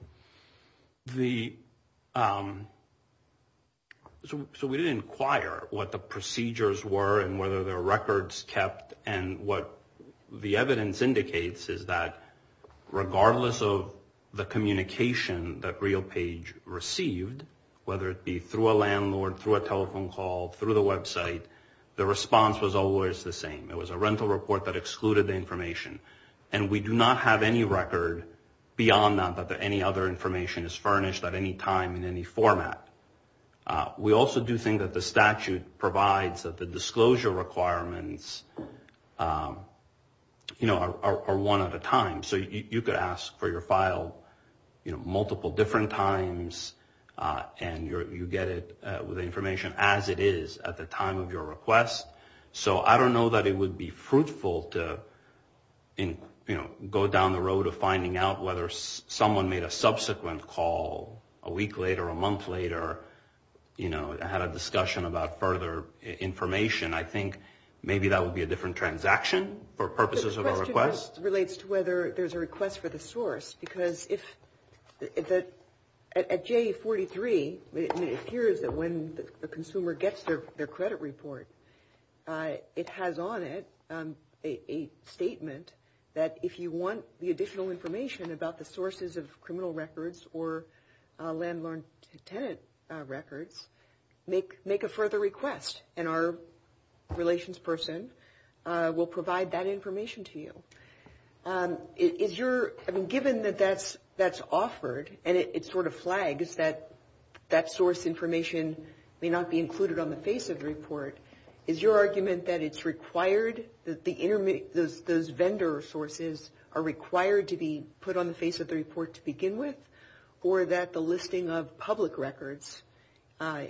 So we didn't inquire what the procedures were and whether there were records kept, and what the evidence indicates is that regardless of the communication that RealPage received, whether it be through a landlord, through a telephone call, through the website, the response was always the same. It was a rental report that excluded the information. And we do not have any record beyond that that any other information is furnished at any time in any format. We also do think that the statute provides that the disclosure requirements, you know, are one at a time. So you could ask for your file, you know, multiple different times, and you get it with information as it is at the time of your request. So I don't know that it would be fruitful to, you know, go down the road of finding out whether someone made a subsequent call a week later, a month later, you know, had a discussion about further information. I think maybe that would be a different transaction for purposes of a request. It also relates to whether there's a request for the source, because at J43 it appears that when the consumer gets their credit report, it has on it a statement that if you want the additional information about the sources of criminal records or landlord-to-tenant records, make a further request, and our relations person will provide that information to you. Given that that's offered and it sort of flags that that source information may not be included on the face of the report, is your argument that it's required, that those vendor sources are required to be put on the face of the report to begin with, or that the listing of public records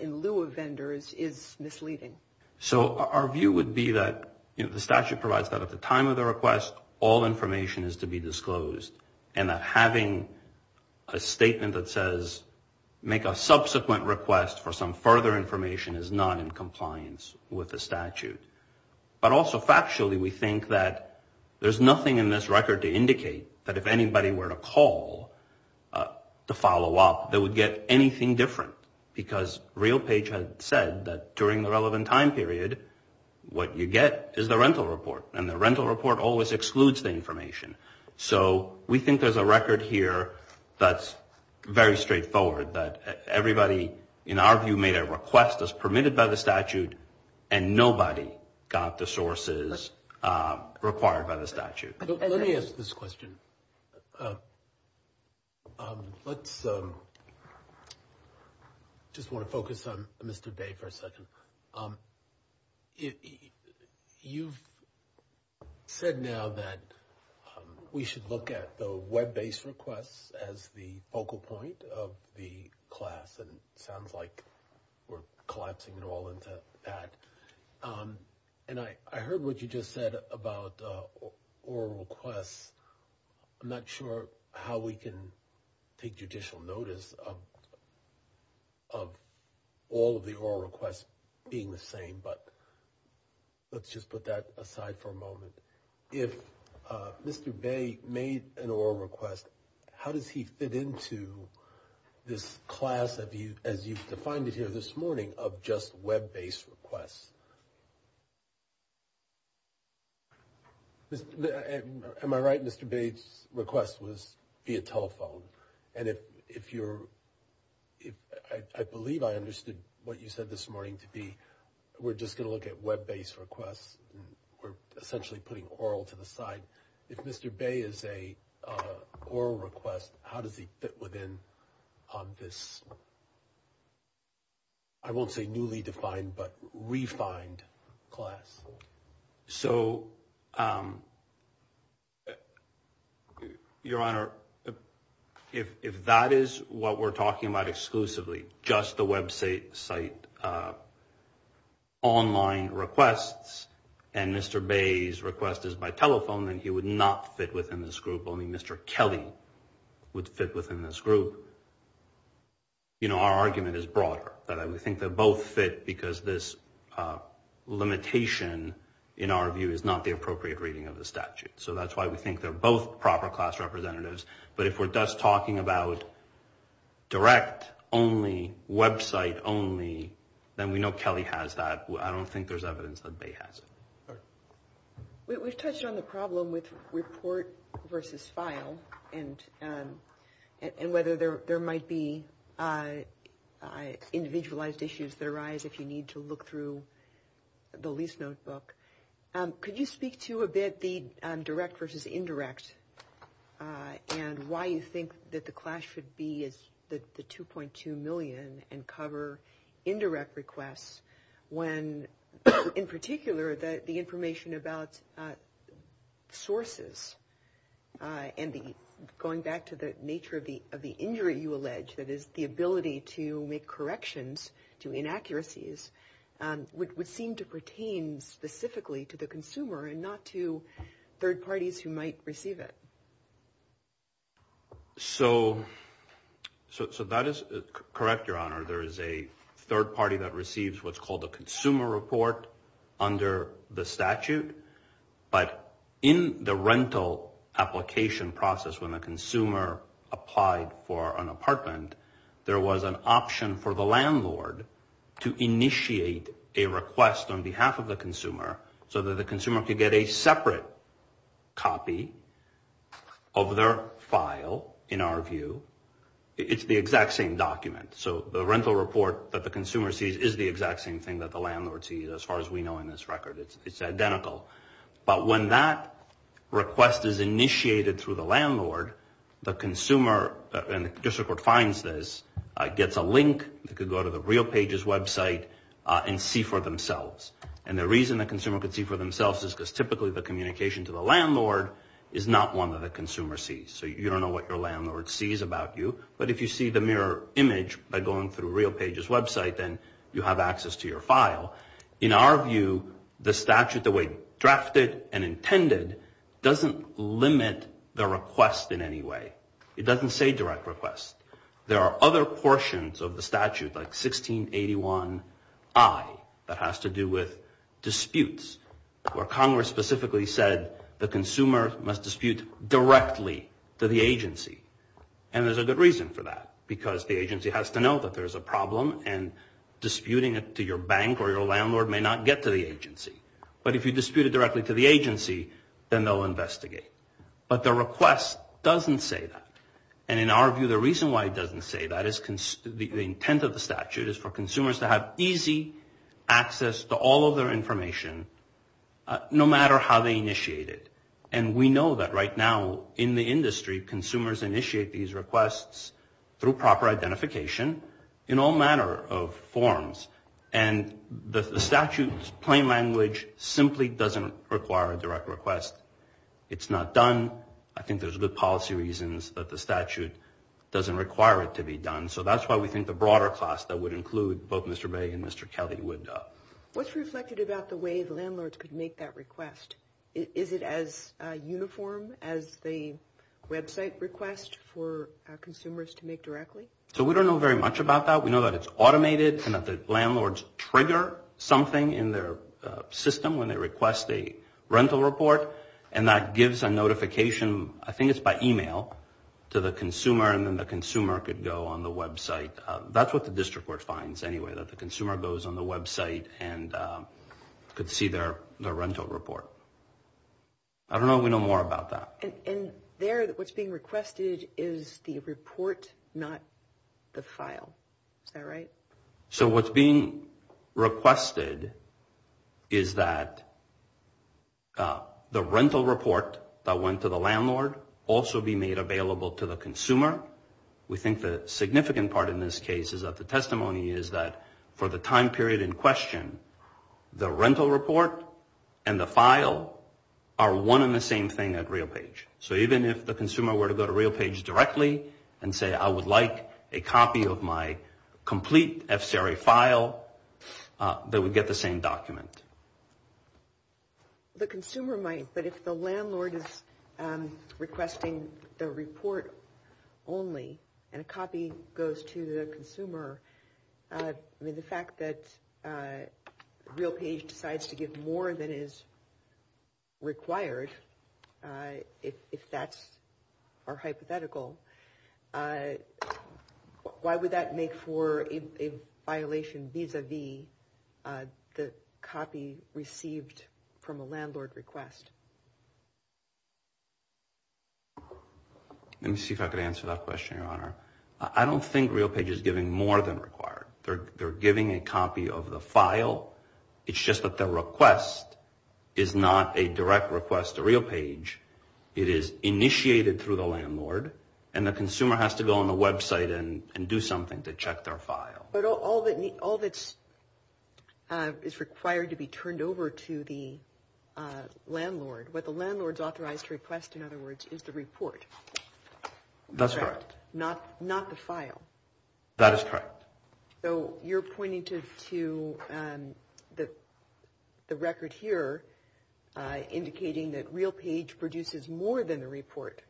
in lieu of vendors is misleading? So our view would be that the statute provides that at the time of the request, all information is to be disclosed, and that having a statement that says make a subsequent request for some further information is not in compliance with the statute. But also factually, we think that there's nothing in this record to indicate that if anybody were to call to follow up, they would get anything different, because RealPage has said that during the relevant time period, what you get is the rental report, and the rental report always excludes the information. So we think there's a record here that's very straightforward, that everybody, in our view, made a request that's permitted by the statute, and nobody got the sources required by the statute. Let me ask this question. I just want to focus on Mr. Bay for a second. You've said now that we should look at the web-based requests as the focal point of the class, and it sounds like we're collapsing it all into that. And I heard what you just said about oral requests. I'm not sure how we can take judicial notice of all of the oral requests being the same, but let's just put that aside for a moment. If Mr. Bay made an oral request, how does he fit into this class, as you've defined it here this morning, of just web-based requests? Am I right, Mr. Bay's request was via telephone? And I believe I understood what you said this morning to be we're just going to look at web-based requests. We're essentially putting oral to the side. If Mr. Bay is an oral request, how does he fit within this, I won't say newly defined, but refined class? So, Your Honor, if that is what we're talking about exclusively, just the website online requests, and Mr. Bay's request is by telephone, then he would not fit within this group. Only Mr. Kelly would fit within this group. Our argument is broader. We think they both fit because this limitation, in our view, is not the appropriate rating of the statute. So that's why we think they're both proper class representatives. But if we're just talking about direct only, website only, then we know Kelly has that. I don't think there's evidence that Bay has it. We've touched on the problem with report versus file and whether there might be individualized issues that arise if you need to look through the lease notebook. Could you speak to a bit the direct versus indirect and why you think that the clash should be the $2.2 million and cover indirect requests when, in particular, the information about sources and going back to the nature of the injury you allege, that is, the ability to make corrections to inaccuracies, would seem to pertain specifically to the consumer and not to third parties who might receive it. There is a third party that receives what's called a consumer report under the statute. But in the rental application process when a consumer applied for an apartment, there was an option for the landlord to initiate a request on behalf of the consumer so that the consumer could get a separate copy of their file, in our view. It's the exact same document. So the rental report that the consumer sees is the exact same thing that the landlord sees, as far as we know in this record. It's identical. But when that request is initiated through the landlord, the consumer, and the district court finds this, gets a link that could go to the real pages website and see for themselves. And the reason the consumer could see for themselves is because typically the communication to the landlord is not one that the consumer sees. So you don't know what your landlord sees about you. But if you see the mirror image by going through real pages website, then you have access to your file. In our view, the statute, the way it's drafted and intended, doesn't limit the request in any way. It doesn't say direct request. There are other portions of the statute, like 1681I, that has to do with disputes, where Congress specifically said the consumer must dispute directly to the agency. And there's a good reason for that, because the agency has to know that there's a problem and disputing it to your bank or your landlord may not get to the agency. But if you dispute it directly to the agency, then they'll investigate. But the request doesn't say that. And in our view, the reason why it doesn't say that is the intent of the statute is for consumers to have easy access to all of their information, no matter how they initiate it. And we know that right now in the industry, consumers initiate these requests through proper identification in all manner of forms. And the statute's plain language simply doesn't require a direct request. It's not done. I think there's good policy reasons that the statute doesn't require it to be done. So that's why we think the broader class that would include both Mr. May and Mr. Kelly would. What's reflected about the way the landlords could make that request? Is it as uniform as the website request for consumers to make directly? So we don't know very much about that. We know that it's automated and that the landlords trigger something in their system when they request a rental report, and that gives a notification. I think it's by email to the consumer, and then the consumer could go on the website. That's what the district court finds anyway, that the consumer goes on the website and could see their rental report. I don't know if we know more about that. And there, what's being requested is the report, not the file. Is that right? So what's being requested is that the rental report that went to the landlord also be made available to the consumer. We think the significant part in this case of the testimony is that for the time period in question, the rental report and the file are one and the same thing at RealPage. So even if the consumer were to go to RealPage directly and say, I would like a copy of my complete FCRA file, they would get the same document. The consumer might, but if the landlord is requesting the report only and a copy goes to the consumer, the fact that RealPage decides to give more than is required, if that's our hypothetical, why would that make for a violation vis-a-vis the copy received from a landlord's request? Let me see if I can answer that question, Your Honor. I don't think RealPage is giving more than required. They're giving a copy of the file. It's just that the request is not a direct request to RealPage. It is initiated through the landlord, and the consumer has to go on the website and do something to check their file. But all that is required to be turned over to the landlord, what the landlord is authorized to request, in other words, is the report. That's correct. Not the file. That is correct. So you're pointing to the record here, indicating that RealPage produces more than the report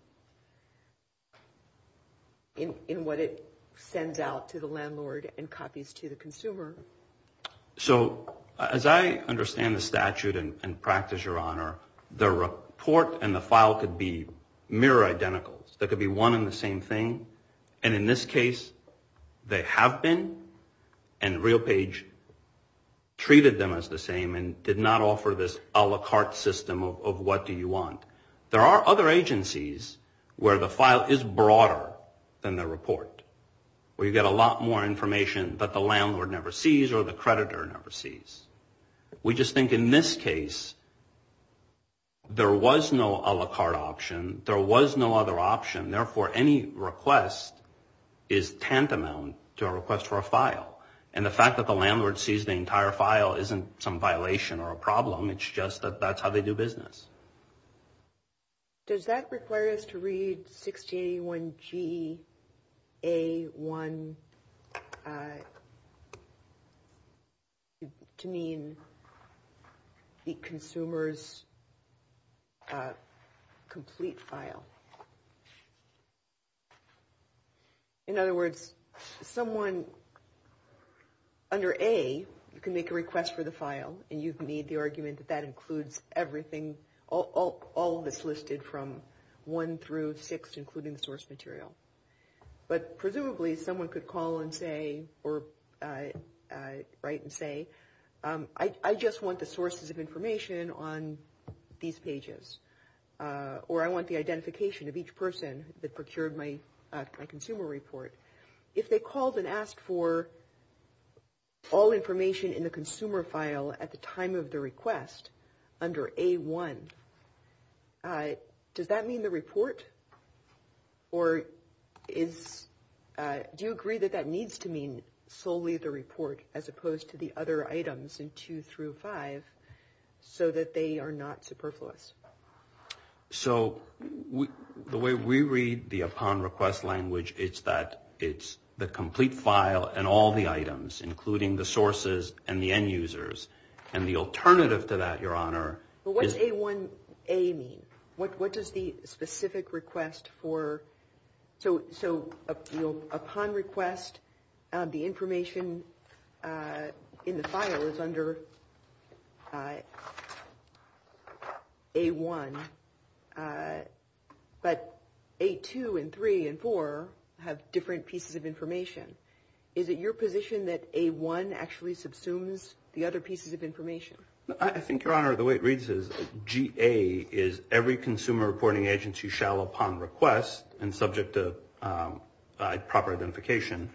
in what it sends out to the landlord and copies to the consumer. So as I understand the statute and practice, Your Honor, the report and the file could be mirror identicals. They could be one and the same thing. And in this case, they have been, and RealPage treated them as the same and did not offer this a la carte system of what do you want. There are other agencies where the file is broader than the report, where you get a lot more information that the landlord never sees or the creditor never sees. We just think in this case, there was no a la carte option. There was no other option. Therefore, any request is tantamount to a request for a file. And the fact that the landlord sees the entire file isn't some violation or a problem. It's just that that's how they do business. Does that require us to read 681G A1 to mean the consumer's complete file? In other words, someone under A can make a request for the file, and you can read the argument that that includes everything, all of this listed from one through six, including the source material. But presumably, someone could call and say or write and say, I just want the sources of information on these pages, or I want the identification of each person that procured my consumer report. If they called and asked for all information in the consumer file at the time of the request under A1, does that mean the report? Or do you agree that that needs to mean solely the report as opposed to the other items in two through five so that they are not superfluous? So the way we read the upon request language is that it's the complete file and all the items, including the sources and the end users. And the alternative to that, Your Honor, is... What does A1A mean? What does the specific request for... So upon request, the information in the file is under A1, but A2 and 3 and 4 have different pieces of information. Is it your position that A1 actually subsumes the other pieces of information? I think, Your Honor, the way it reads is, GA is every consumer reporting agency shall, upon request and subject to proper identification,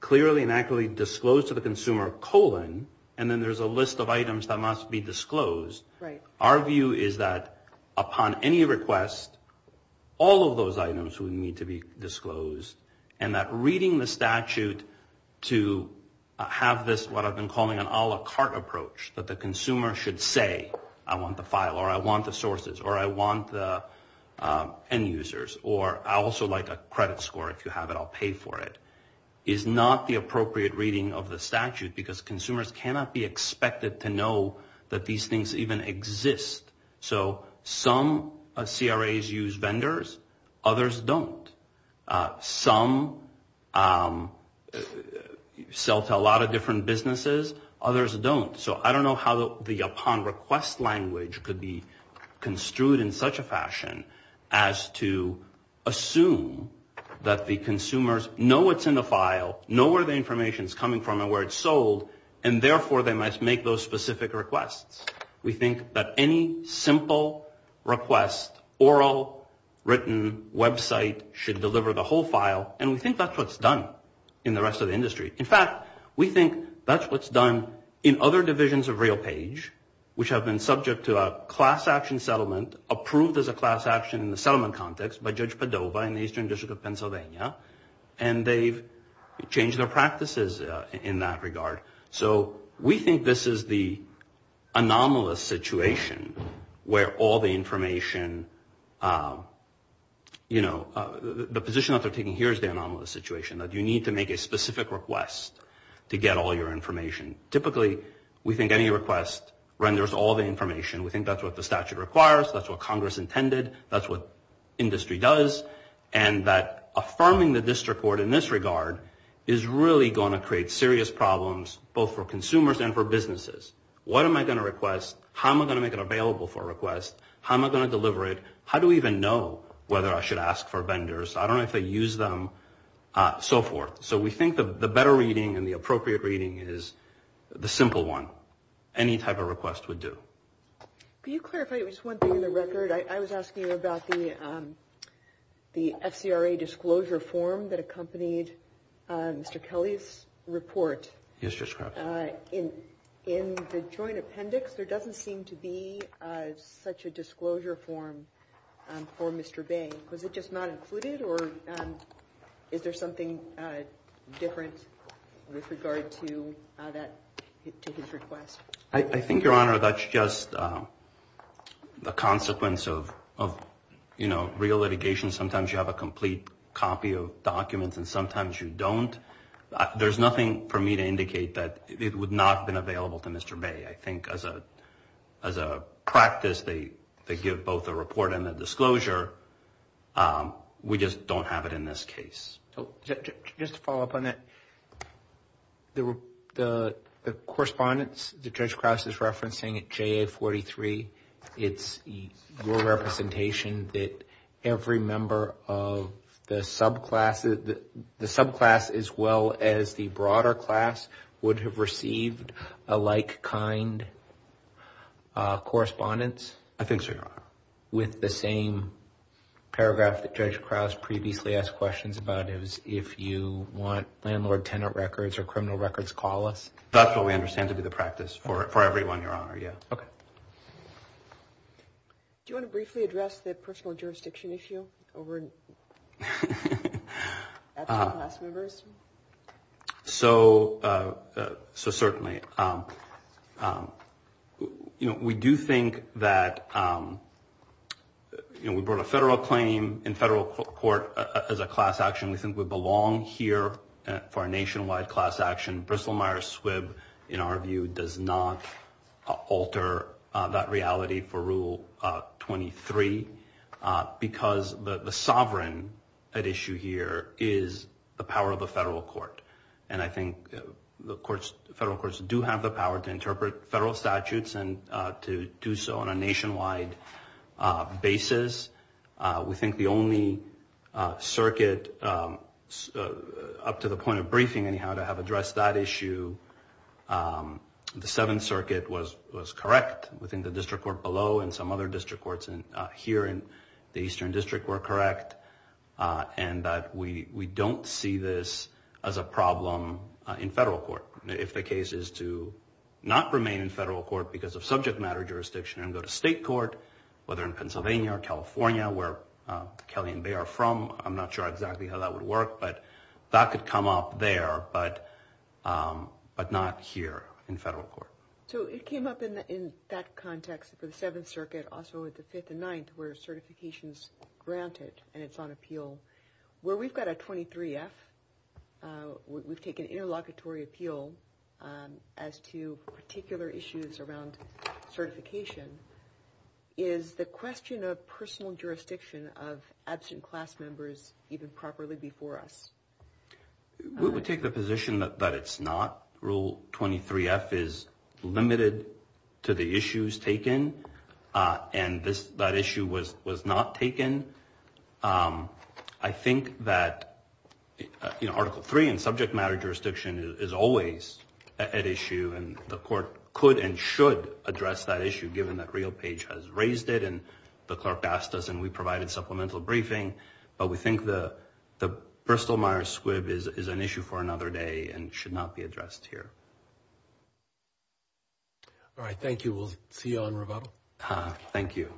clearly and accurately disclose to the consumer, and then there's a list of items that must be disclosed. Our view is that upon any request, all of those items need to be disclosed, and that reading the statute to have this, what I've been calling an a la carte approach, that the consumer should say, I want the file, or I want the sources, or I want the end users, or I also like a credit score, if you have it, I'll pay for it, is not the appropriate reading of the statute, because consumers cannot be expected to know that these things even exist. So some CRAs use vendors, others don't. Some sell to a lot of different businesses, others don't. So I don't know how the upon request language could be construed in such a fashion as to assume that the consumers know what's in the file, know where the information is coming from and where it's sold, and therefore they must make those specific requests. We think that any simple request, oral, written, website, should deliver the whole file, and we think that's what's done in the rest of the industry. In fact, we think that's what's done in other divisions of RealPage, which have been subject to a class action settlement, approved as a class action in the settlement context by Judge Padova in the Eastern District of Pennsylvania, and they've changed their practices in that regard. So we think this is the anomalous situation where all the information, the position that they're taking here is the anomalous situation, that you need to make a specific request to get all your information. Typically, we think any request renders all the information. We think that's what the statute requires. That's what Congress intended. That's what industry does, and that affirming the district court in this regard is really going to create serious problems both for consumers and for businesses. What am I going to request? How am I going to make it available for a request? How am I going to deliver it? How do we even know whether I should ask for vendors? I don't know if they use them, so forth. So we think the better reading and the appropriate reading is the simple one. Any type of request would do. Can you clarify just one thing on the record? I was asking about the SCRA disclosure form that accompanied Mr. Kelly's report. Yes, Judge Crouch. In the joint appendix, there doesn't seem to be such a disclosure form for Mr. Bain. Was it just not included, or is there something different with regard to his request? I think, Your Honor, that's just the consequence of real litigation. Sometimes you have a complete copy of documents, and sometimes you don't. There's nothing for me to indicate that it would not have been available to Mr. Bain. I think as a practice, they give both a report and a disclosure. We just don't have it in this case. Just to follow up on that, the correspondence that Judge Crouch is referencing at JA-43, it's your representation that every member of the subclass as well as the broader class would have received a like-kind correspondence? I think so, Your Honor. With the same paragraph that Judge Crouch previously asked questions about, is if you want landlord-tenant records or criminal records, call us. That's what we understand to be the practice for everyone, Your Honor. Okay. Do you want to briefly address the personal jurisdiction issue? Certainly. We do think that we brought a federal claim in federal court as a class action. We think we belong here for a nationwide class action. Bristol-Myers-Swibb, in our view, does not alter that reality for Rule 23 because the sovereign at issue here is the power of the federal court, and I think the federal courts do have the power to interpret federal statutes and to do so on a nationwide basis. We think the only circuit up to the point of briefing anyhow to have addressed that issue, the Seventh Circuit was correct within the district court below and some other district courts here in the Eastern District were correct, and that we don't see this as a problem in federal court. If the case is to not remain in federal court because of subject matter jurisdiction and go to state court, whether in Pennsylvania or California, where Kelly and Bay are from, I'm not sure exactly how that would work, but that could come up there, but not here in federal court. So it came up in that context for the Seventh Circuit, also at the Fifth and Ninth, where certification is granted and it's on appeal. Where we've got a 23-F, we've taken interlocutory appeal as to particular issues around certification. Is the question of personal jurisdiction of absent class members even properly before us? We would take the position that it's not. Rule 23-F is limited to the issues taken, and that issue was not taken. I think that Article 3 in subject matter jurisdiction is always an issue, and the court could and should address that issue, given that Rio Page has raised it, and the clerk asked us and we provided supplemental briefing, but we think the Bristol-Myers squib is an issue for another day and should not be addressed here. All right, thank you. We'll see you on revote. Thank you.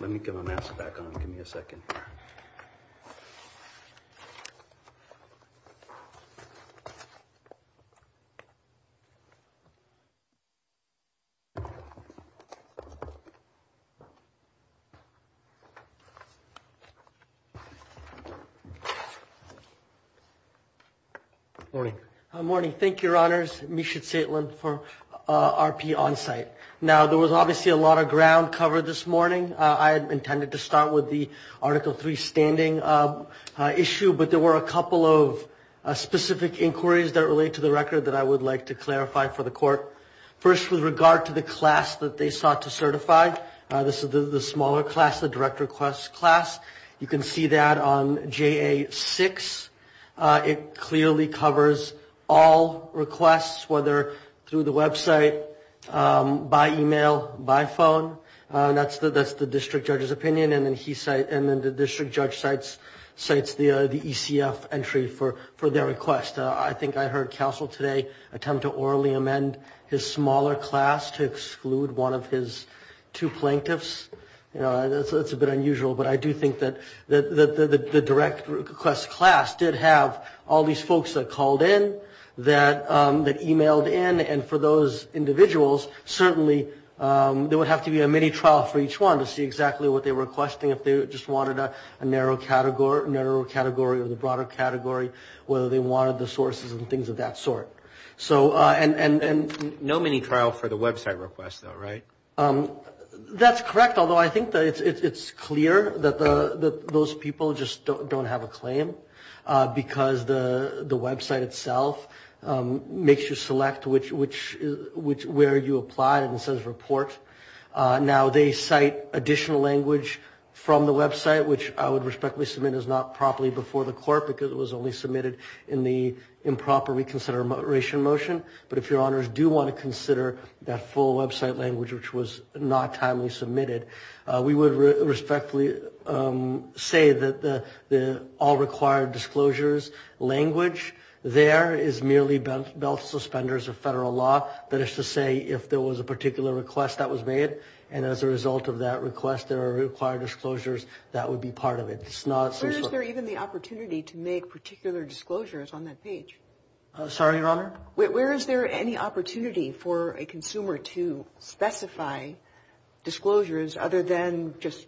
Let me get my mask back on. Give me a second. Good morning. Good morning. Thank you, Your Honors. Misha Tseytlin for RP Onsite. Now, there was obviously a lot of ground covered this morning. I had intended to start with the Article 3 standing issue, but there were a couple of specific inquiries that relate to the record that I would like to clarify for the court. This is the class that they sought to certify. This is the smaller class, the direct request class. You can see that on JA-6. It clearly covers all requests, whether through the website, by email, by phone. That's the district judge's opinion, and then the district judge cites the ECF entry for their request. I think I heard counsel today attempt to orally amend his smaller class to exclude one of his two plaintiffs. That's a bit unusual, but I do think that the direct request class did have all these folks that called in, that emailed in, and for those individuals, certainly there would have to be a mini-trial for each one to see exactly what they were requesting. If they just wanted a narrow category or the broader category, whether they wanted the sources and things of that sort. No mini-trial for the website request, though, right? That's correct, although I think it's clear that those people just don't have a claim because the website itself makes you select where you apply and it says report. Now, they cite additional language from the website, because it was only submitted in the improper reconsideration motion, but if your honors do want to consider that full website language, which was not timely submitted, we would respectfully say that the all required disclosures language there is merely belt suspenders of federal law, but it's to say if there was a particular request that was made and as a result of that request there are required disclosures, that would be part of it. Where is there even the opportunity to make particular disclosures on that page? Sorry, your honor? Where is there any opportunity for a consumer to specify disclosures other than just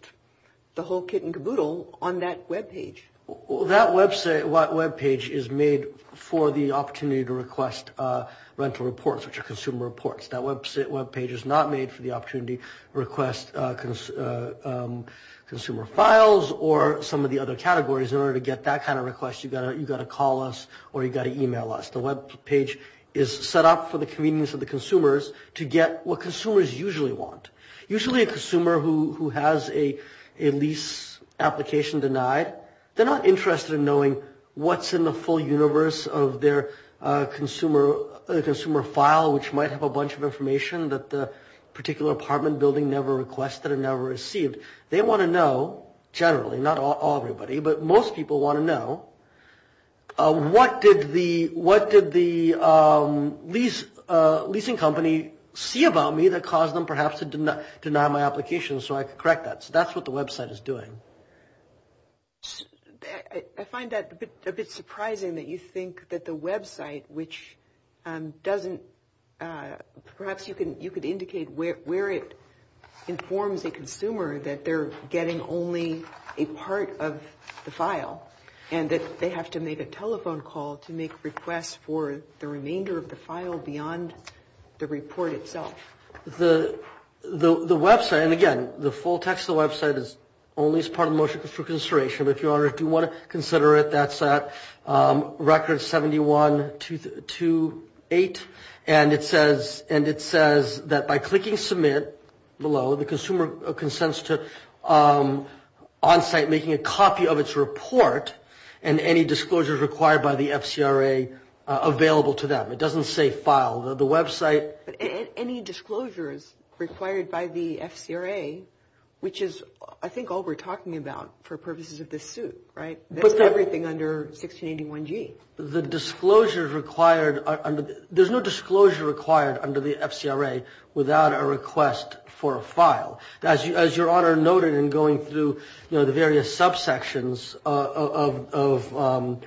the whole kit and caboodle on that webpage? That webpage is made for the opportunity to request rental reports, which are consumer reports. That webpage is not made for the opportunity to request consumer files or some of the other categories in order to get that kind of request. You've got to call us or you've got to email us. The webpage is set up for the convenience of the consumers to get what consumers usually want. Usually a consumer who has a lease application denied, they're not interested in knowing what's in the full universe of their consumer file, which might have a bunch of information that the particular apartment building never requested or never received. They want to know generally, not all everybody, but most people want to know, what did the leasing company see about me that caused them perhaps to deny my application so I could correct that. So that's what the website is doing. I find that a bit surprising that you think that the website, which doesn't, perhaps you could indicate where it informs the consumer that they're getting only a part of the file and that they have to make a telephone call to make requests for the remainder of the file beyond the report itself. The website, and again, the full text of the website is only as part of motion for consideration. If you want to consider it, that's at record 7128, and it says that by clicking submit below, the consumer consents to on-site making a copy of its report and any disclosures required by the FCRA available to them. It doesn't say file. The website... Any disclosures required by the FCRA, which is, I think, all we're talking about for purposes of this suit, right? That's everything under 1681G. The disclosures required... There's no disclosure required under the FCRA without a request for a file. As Your Honor noted in going through the various subsections of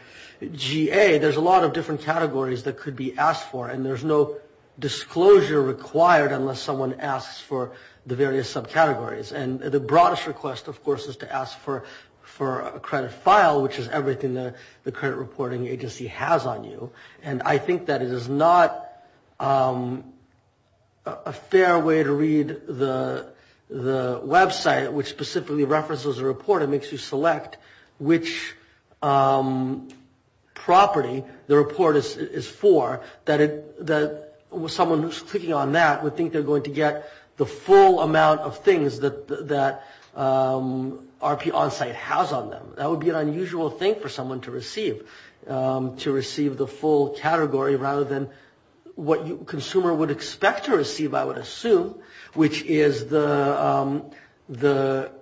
GA, there's a lot of different categories that could be asked for, and there's no disclosure required unless someone asks for the various subcategories. And the broadest request, of course, is to ask for a credit file, which is everything that the credit reporting agency has on you. And I think that it is not a fair way to read the website, which specifically references a report and makes you select which property the report is for, that someone who's clicking on that would think they're going to get the full amount of things that RP Onsite has on them. That would be an unusual thing for someone to receive, to receive the full category rather than what a consumer would expect to receive, I would assume, which is the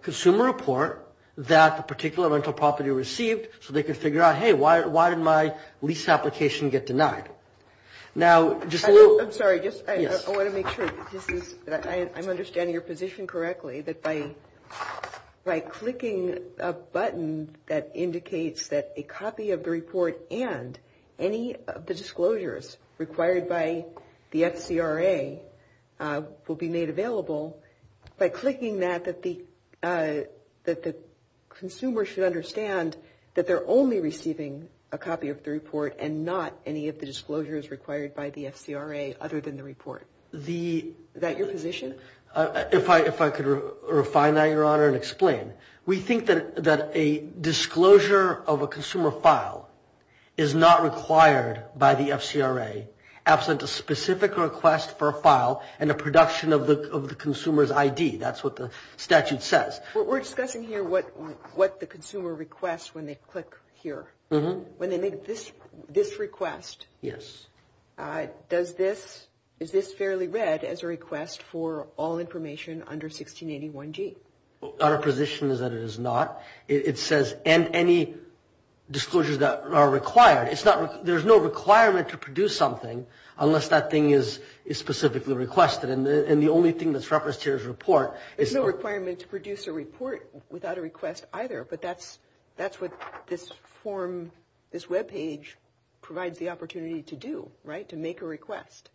consumer report that a particular rental property received, so they can figure out, hey, why did my lease application get denied? Now, just a little... I'm sorry. I want to make sure that I'm understanding your position correctly, that by clicking a button that indicates that a copy of the report and any of the disclosures required by the FCRA will be made available, by clicking that, that the consumer should understand that they're only receiving a copy of the report and not any of the disclosures required by the FCRA other than the report. Is that your position? If I could refine that, Your Honor, and explain. We think that a disclosure of a consumer file is not required by the FCRA absent a specific request for a file and a production of the consumer's ID. That's what the statute says. We're discussing here what the consumer requests when they click here. When they make this request, is this fairly read as a request for all information under 1681G? Our position is that it is not. It says any disclosures that are required. There's no requirement to produce something unless that thing is specifically requested, and the only thing that's referenced here is report. There's no requirement to produce a report without a request either, but that's what this web page provides the opportunity to do, right? To make a request.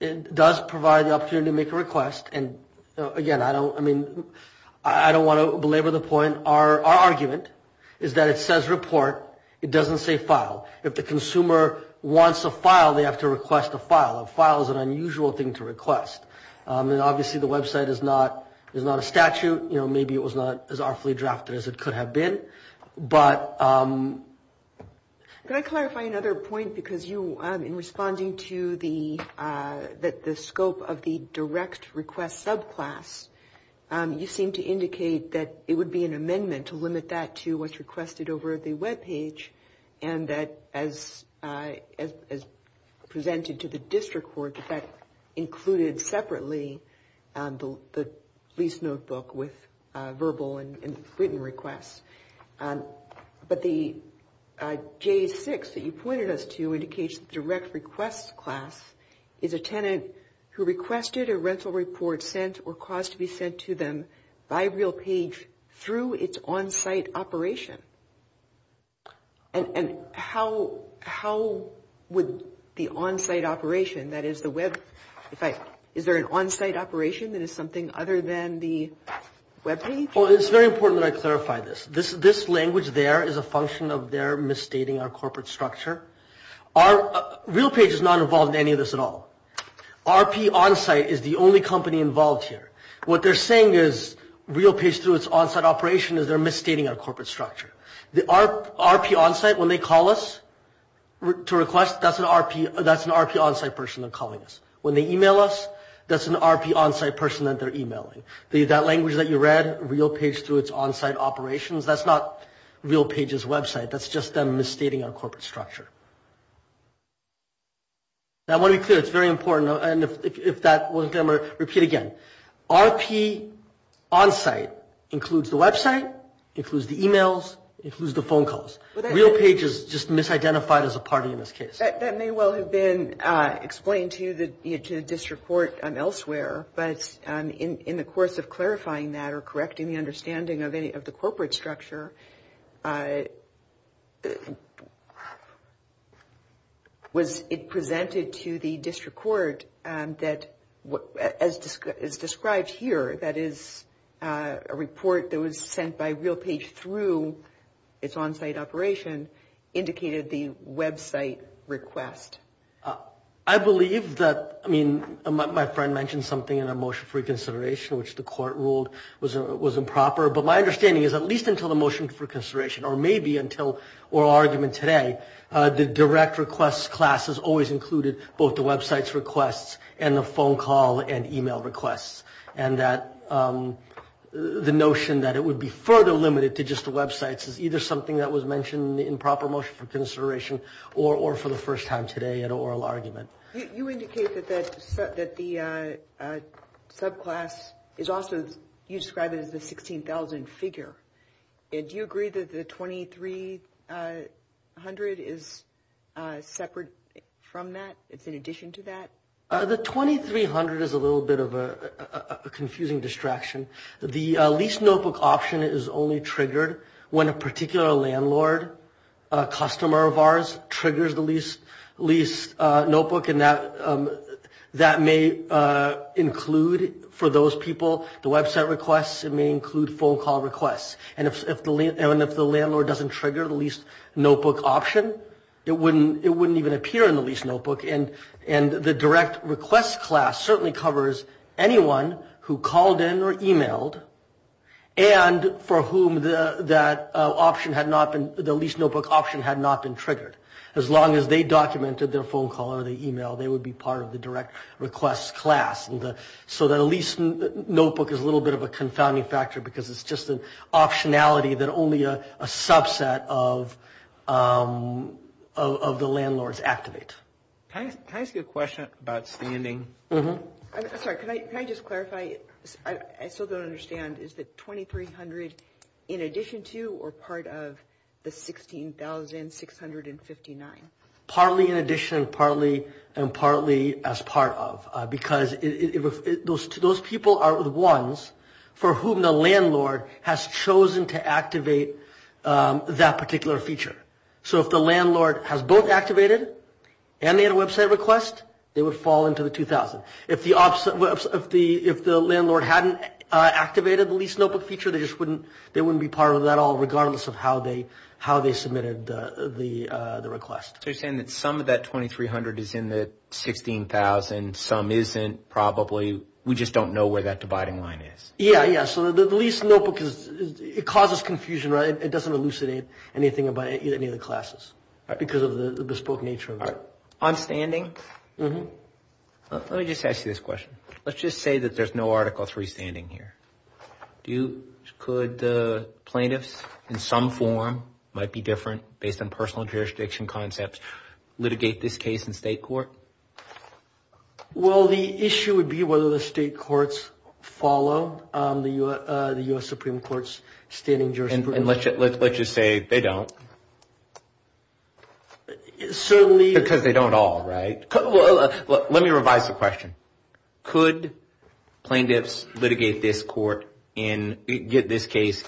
It does provide the opportunity to make a request, and again, I don't want to belabor the point. Our argument is that it says report. It doesn't say file. If the consumer wants a file, they have to request a file. A file is an unusual thing to request. Obviously, the website is not a statute. Maybe it was not as awfully drafted as it could have been. Can I clarify another point? In responding to the scope of the direct request subclass, you seem to indicate that it would be an amendment to limit that to what's requested over the web page and that, as presented to the district court, that included separately the lease notebook with verbal and written requests. But the J6 that you pointed us to indicates the direct request class is a tenant who requested a rental report to be sent or cost to be sent to them by RealPage through its on-site operation. And how would the on-site operation, that is the website, is there an on-site operation that is something other than the web page? Well, it's very important that I clarify this. This language there is a function of their misstating our corporate structure. RealPage is not involved in any of this at all. RP on-site is the only company involved here. What they're saying is RealPage through its on-site operation is they're misstating our corporate structure. The RP on-site, when they call us to request, that's an RP on-site person calling us. When they email us, that's an RP on-site person that they're emailing. That language that you read, RealPage through its on-site operations, that's not RealPage's website. That's just them misstating our corporate structure. I want to be clear, it's very important, and if that wasn't clear, I'm going to repeat again. RP on-site includes the website, includes the emails, includes the phone calls. RealPage is just misidentified as a part of this case. That may well have been explained to you to this report elsewhere, but in the course of clarifying that or correcting the understanding of the corporate structure, was it presented to the district court that, as described here, that is a report that was sent by RealPage through its on-site operation, indicated the website request? I believe that, I mean, my friend mentioned something in the motion for reconsideration, which the court ruled was improper, but my understanding is, at least until the motion for reconsideration, or maybe until oral argument today, the direct request class has always included both the website's requests and the phone call and email requests, and that the notion that it would be further limited to just the websites is either something that was mentioned in the improper motion for consideration or for the first time today in an oral argument. You indicated that the subclass is also described as a 16,000 figure. Do you agree that the 2300 is separate from that? It's in addition to that? The 2300 is a little bit of a confusing distraction. The lease notebook option is only triggered when a particular landlord, a customer of ours, triggers the lease notebook, and that may include, for those people, the website requests. It may include phone call requests, and if the landlord doesn't trigger the lease notebook option, it wouldn't even appear in the lease notebook, and the direct request class certainly covers anyone who called in or emailed and for whom the lease notebook option had not been triggered. As long as they documented their phone call or their email, they would be part of the direct request class. So the lease notebook is a little bit of a confounding factor because it's just an optionality that only a subset of the landlords activates. Can I ask you a question about standing? Sorry, can I just clarify? I still don't understand. Is the 2300 in addition to or part of the 16,659? Partly in addition, partly and partly as part of, because those people are the ones for whom the landlord has chosen to activate that particular feature. So if the landlord has both activated and made a website request, they would fall into the 2000. If the landlord hadn't activated the lease notebook feature, they wouldn't be part of that at all regardless of how they submitted the request. So you're saying that some of that 2300 is in the 16,000, some isn't, probably. We just don't know where that dividing line is. Yeah, yeah. So the lease notebook causes confusion. It doesn't elucidate anything about any of the classes because of the bespoke nature of it. On standing? Let me just ask you this question. Let's just say that there's no Article III standing here. Could the plaintiffs in some form, might be different, based on personal jurisdiction concepts, litigate this case in state court? Well, the issue would be whether the state courts follow the U.S. Supreme Court's standing jurisdiction. And let's just say they don't. Because they don't all, right? Let me revise the question. Could plaintiffs litigate this case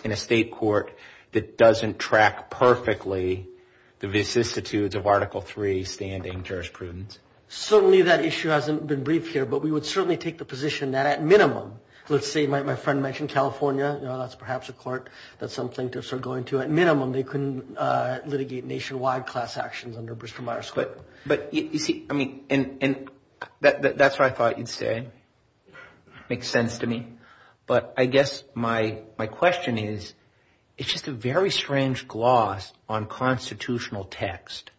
in a state court that doesn't track perfectly the vicissitudes of Article III standing jurisprudence? Certainly that issue hasn't been briefed here, but we would certainly take the position that at minimum, let's say my friend mentioned California. That's perhaps a court that some plaintiffs are going to. At minimum, they can litigate nationwide class actions under Bristol-Myers. But that's what I thought you'd say. Makes sense to me. But I guess my question is, it's just a very strange gloss on constitutional text,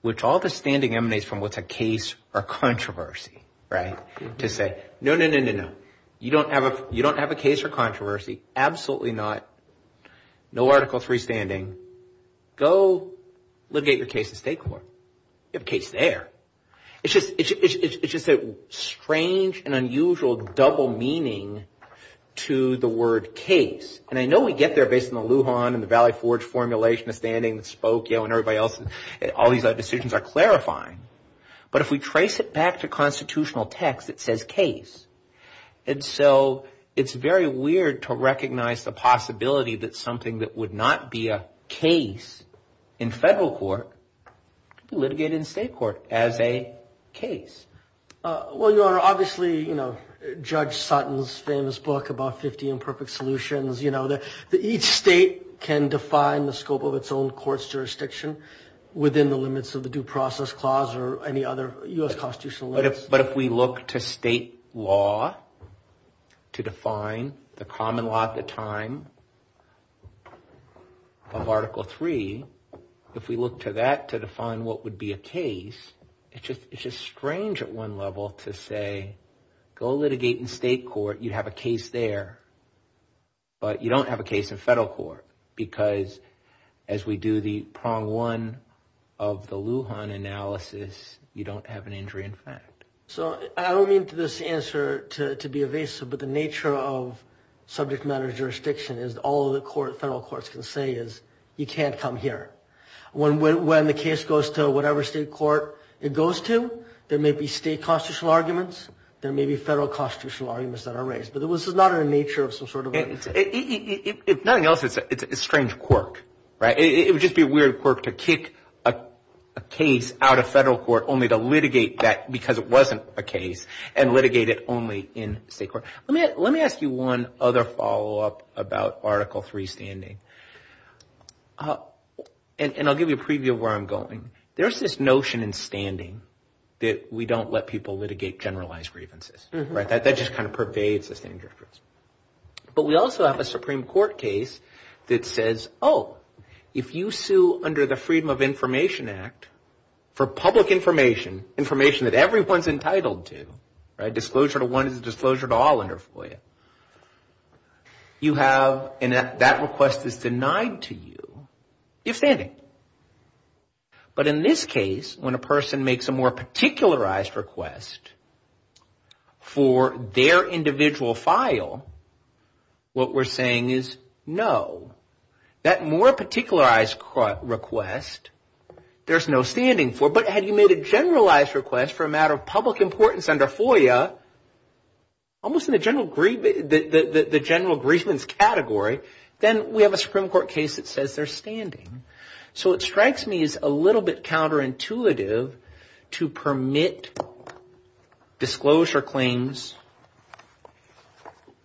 which all the standing emanates from what's a case or controversy, right? To say, no, no, no, no, no. You don't have a case or controversy. Absolutely not. No Article III standing. Go litigate your case in a state court. You have a case there. It's just a strange and unusual double meaning to the word case. And I know we get there based on the Lujan and the Valley Forge formulation, the standing, the spoke, you know, and everybody else. All these decisions are clarifying. But if we trace it back to constitutional text, it says case. And so it's very weird to recognize the possibility that something that would not be a case in federal court could be litigated in state court as a case. Well, you are obviously, you know, Judge Sutton's famous book about 50 Imperfect Solutions, you know, that each state can define the scope of its own court's jurisdiction within the limits of the Due Process Clause or any other U.S. constitutional law. But if we look to state law to define the common law at the time of Article III, if we look to that to define what would be a case, it's just strange at one level to say, go litigate in state court, you have a case there, but you don't have a case in federal court. Because as we do the prong one of the Lujan analysis, you don't have an injury in fact. So I don't mean to this answer to be evasive, but the nature of subject matter jurisdiction is all the federal courts can say is you can't come here. When the case goes to whatever state court it goes to, there may be state constitutional arguments, there may be federal constitutional arguments that are raised. But this is not in the nature of some sort of... If nothing else, it's a strange quirk. It would just be a weird quirk to kick a case out of federal court only to litigate that because it wasn't a case and litigate it only in state court. Let me ask you one other follow-up about Article III standing. And I'll give you a preview of where I'm going. There's this notion in standing that we don't let people litigate generalized grievances. That just kind of pervades the standing jurisprudence. But we also have a Supreme Court case that says, oh, if you sue under the Freedom of Information Act for public information, information that everyone's entitled to, disclosure to one and disclosure to all under FOIA, you have, and that request is denied to you, you're standing. But in this case, when a person makes a more particularized request for their individual file, what we're saying is no. That more particularized request, there's no standing for. But had you made a generalized request for a matter of public importance under FOIA, almost in the general grievance category, then we have a Supreme Court case that says they're standing. So it strikes me as a little bit counterintuitive to permit disclosure claims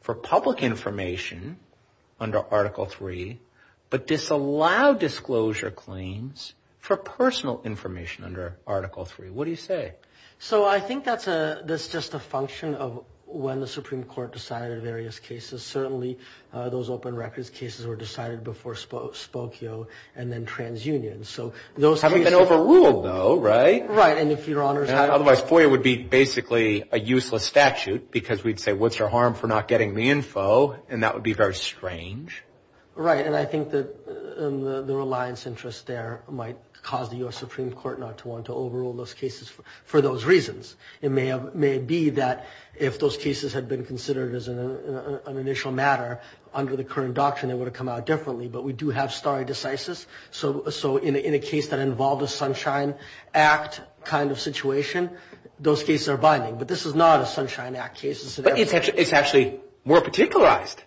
for public information under Article III, but disallow disclosure claims for personal information under Article III. What do you say? So I think that's just a function of when the Supreme Court decided various cases. Certainly, those open records cases were decided before Spokio and then TransUnion. So those cases... Haven't been overruled, though, right? Right. Otherwise, FOIA would be basically a useless statute because we'd say, what's your harm for not getting the info? And that would be very strange. Right. And I think that the reliance interest there might cause the U.S. Supreme Court not to want to overrule those cases for those reasons. It may be that if those cases had been considered as an initial matter under the current doctrine, it would have come out differently. But we do have stare decisis. So in a case that involved a Sunshine Act kind of situation, those cases are binding. But this is not a Sunshine Act case. But it's actually more particularized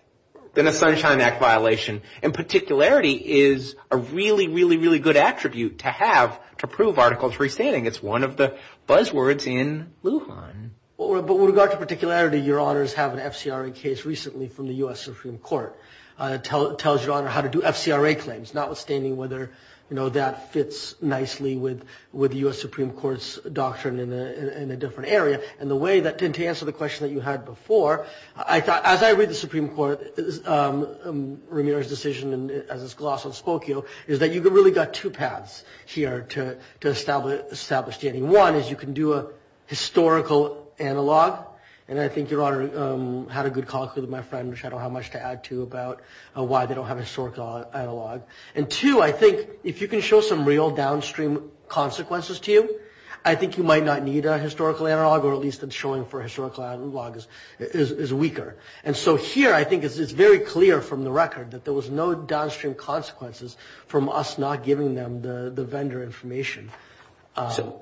than a Sunshine Act violation. And particularity is a really, really, really good attribute to have to prove Article III standing. It's one of the buzzwords in Wuhan. But with regard to particularity, your honors have an FCRA case recently from the U.S. Supreme Court. It tells your honor how to do FCRA claims, notwithstanding whether that fits nicely with the U.S. Supreme Court's doctrine in a different area. And the way to answer the question that you had before, as I read the Supreme Court, Ramirez's decision, is that you've really got two paths here to establish standing. One is you can do a historical analog. And I think your honor had a good conflict with my friend, which I don't have much to add to, about why they don't have a historical analog. And two, I think if you can show some real downstream consequences to you, I think you might not need a historical analog, or at least showing for a historical analog is weaker. And so here, I think it's very clear from the record that there was no downstream consequences from us not giving them the vendor information.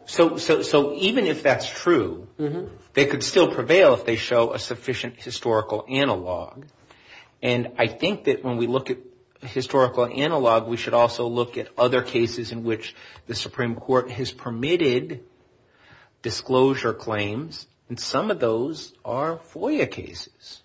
So even if that's true, they could still prevail if they show a sufficient historical analog. And I think that when we look at historical analog, we should also look at other cases in which the Supreme Court has permitted disclosure claims. And some of those are FOIA cases.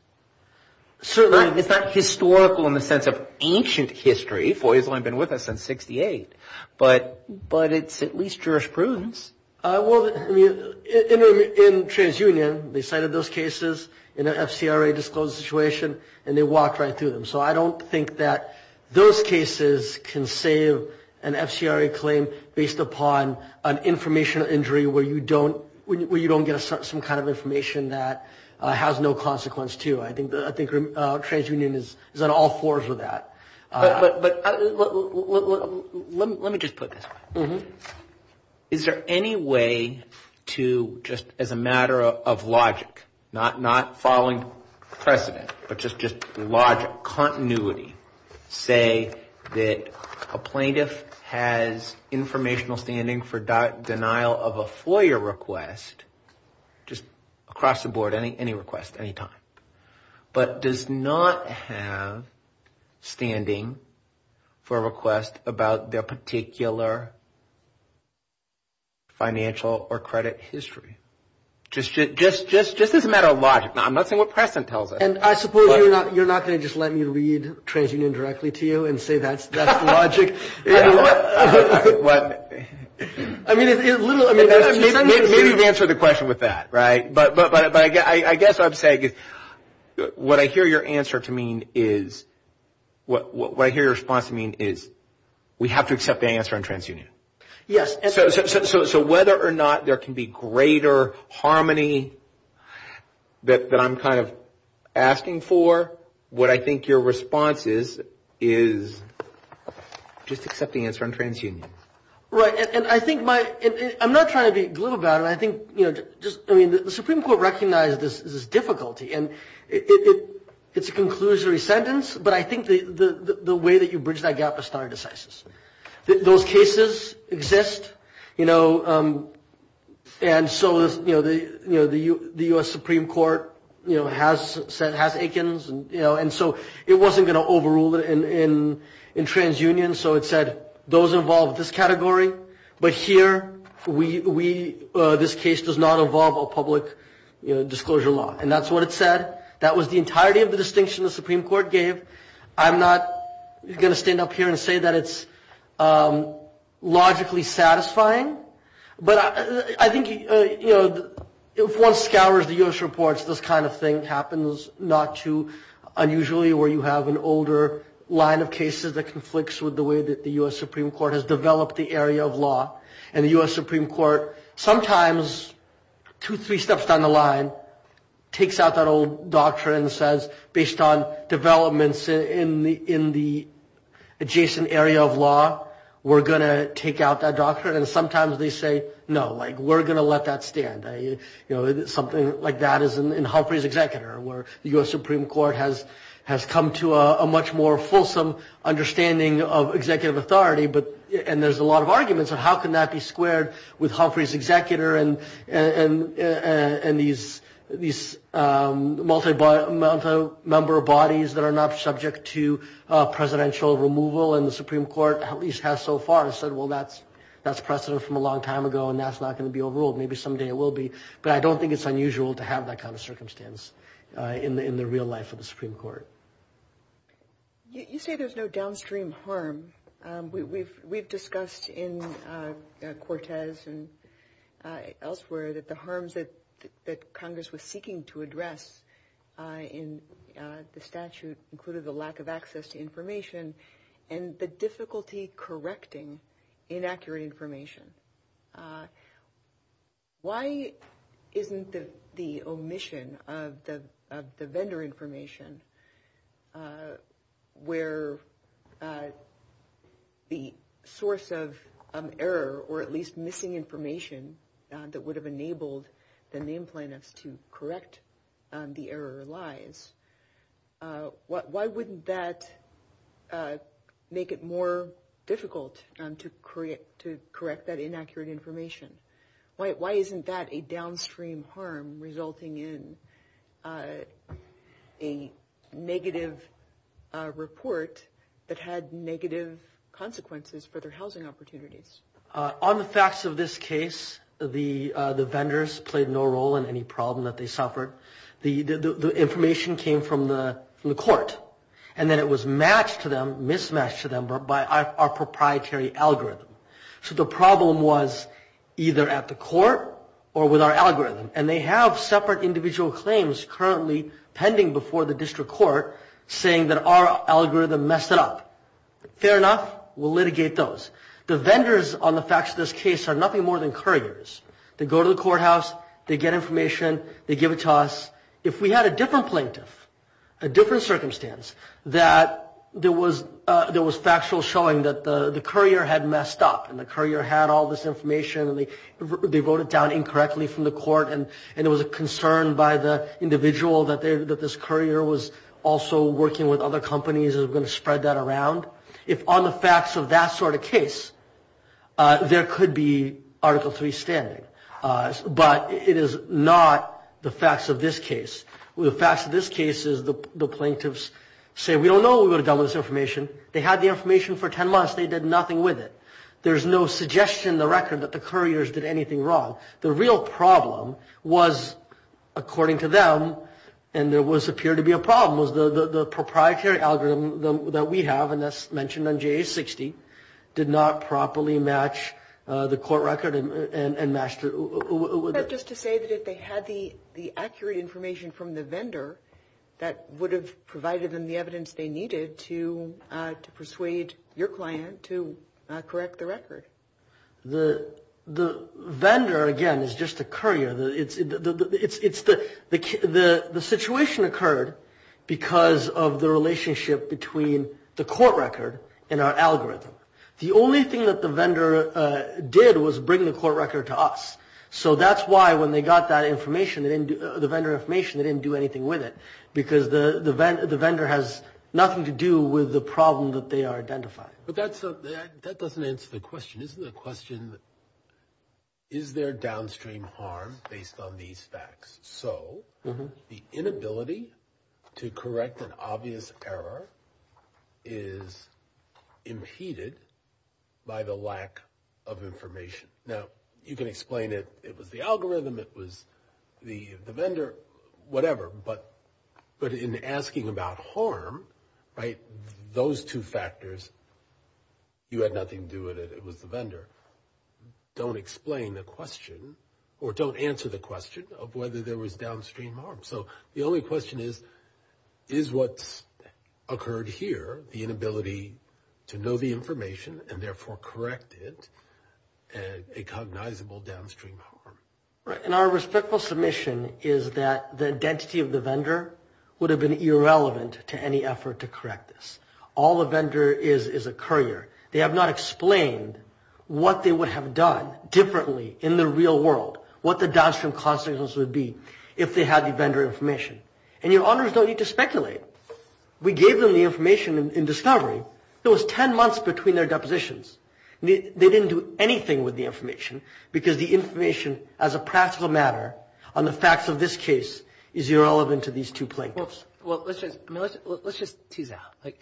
Certainly, it's not historical in the sense of ancient history. FOIA's only been with us since 1968. But it's at least jurisprudence. Well, in TransUnion, they cited those cases in an FCRA-disclosed situation, and they walked right through them. So I don't think that those cases can save an FCRA claim based upon an information injury where you don't get some kind of information that has no consequence to you. I think TransUnion is on all fours of that. But let me just put this. Is there any way to just, as a matter of logic, not following precedent, but just logic, continuity, say that a plaintiff has informational standing for denial of a FOIA request, just across the board, any request, any time, but does not have standing for a request about their particular financial or credit history? Just as a matter of logic. I'm not saying what precedent tells us. And I suppose you're not going to just let me read TransUnion directly to you and say that's logic? What? Maybe you can answer the question with that, right? But I guess I'm saying what I hear your response to mean is we have to accept the answer on TransUnion. Yes. So whether or not there can be greater harmony that I'm kind of asking for, what I think your response is, is just accept the answer on TransUnion. Right. And I think my – I'm not trying to be glib about it. I think, you know, just, I mean, the Supreme Court recognizes this difficulty. And it's a conclusory sentence, but I think the way that you bridged that gap is not indecisive. Those cases exist, you know, and so, you know, the U.S. Supreme Court, you know, has said Hath-Akins, you know, and so it wasn't going to overrule it in TransUnion. So it said those involved in this category, but here we – this case does not involve a public disclosure law. And that's what it said. That was the entirety of the distinction the Supreme Court gave. I'm not going to stand up here and say that it's logically satisfying, but I think, you know, if one scours the U.S. reports, this kind of thing happens not too unusually where you have an older line of cases that conflicts with the way that the U.S. Supreme Court has developed the area of law. And the U.S. Supreme Court sometimes, two, three steps down the line, takes out that old doctrine and says, based on developments in the adjacent area of law, we're going to take out that doctrine. And sometimes they say, no, like, we're going to let that stand. You know, something like that is in Humphrey's Executor where the U.S. Supreme Court has come to a much more fulsome understanding of executive authority, and there's a lot of arguments of how can that be squared with Humphrey's Executor and these multi-member bodies that are not subject to presidential removal, and the Supreme Court at least has so far said, well, that's precedent from a long time ago, and that's not going to be overruled. Maybe someday it will be, but I don't think it's unusual to have that kind of circumstance in the real life of the Supreme Court. You say there's no downstream harm. We've discussed in Cortez and elsewhere that the harms that Congress was seeking to address in the statute included the lack of access to information and the difficulty correcting inaccurate information. Why isn't the omission of the vendor information where the source of error or at least missing information that would have enabled the name plaintiffs to correct the error lies? Why wouldn't that make it more difficult to correct that inaccurate information? Why isn't that a downstream harm resulting in a negative report that had negative consequences for their housing opportunities? On the facts of this case, the vendors played no role in any problem that they suffered. The information came from the court, and then it was mismatched to them by our proprietary algorithm. The problem was either at the court or with our algorithm, and they have separate individual claims currently pending before the district court saying that our algorithm messed it up. Fair enough. We'll litigate those. The vendors on the facts of this case are nothing more than couriers. They go to the courthouse. They get information. They give it to us. If we had a different plaintiff, a different circumstance, that there was factual showing that the courier had messed up, and the courier had all this information, and they wrote it down incorrectly from the court, and there was a concern by the individual that this courier was also working with other companies and was going to spread that around. If on the facts of that sort of case, there could be Article III standing, but it is not the facts of this case. The facts of this case is the plaintiffs say, we don't know who got this information. They had the information for 10 months. They did nothing with it. There's no suggestion in the record that the couriers did anything wrong. The real problem was, according to them, and there appeared to be a problem, was the proprietary algorithm that we have, and that's mentioned on JA-60, did not properly match the court record. Just to say that if they had the accurate information from the vendor, that would have provided them the evidence they needed to persuade your client to correct the record. The vendor, again, is just the courier. The situation occurred because of the relationship between the court record and our algorithm. The only thing that the vendor did was bring the court record to us, so that's why when they got the vendor information, they didn't do anything with it, because the vendor has nothing to do with the problem that they are identifying. But that doesn't answer the question. This is a question, is there downstream harm based on these facts? So the inability to correct an obvious error is impeded by the lack of information. Now, you can explain it. It was the algorithm. It was the vendor, whatever, but in asking about harm, those two factors, you had nothing to do with it. It was the vendor. Don't explain the question, or don't answer the question, of whether there was downstream harm. So the only question is, is what occurred here, the inability to know the information and therefore correct it, a cognizable downstream harm? And our respectful submission is that the identity of the vendor would have been irrelevant to any effort to correct this. All the vendor is is a courier. They have not explained what they would have done differently in the real world, what the downstream consequences would be if they had the vendor information. And your honors don't need to speculate. We gave them the information in discovery. It was ten months between their depositions. They didn't do anything with the information, because the information as a practical matter on the facts of this case is irrelevant to these two plaintiffs. Let's just tease out.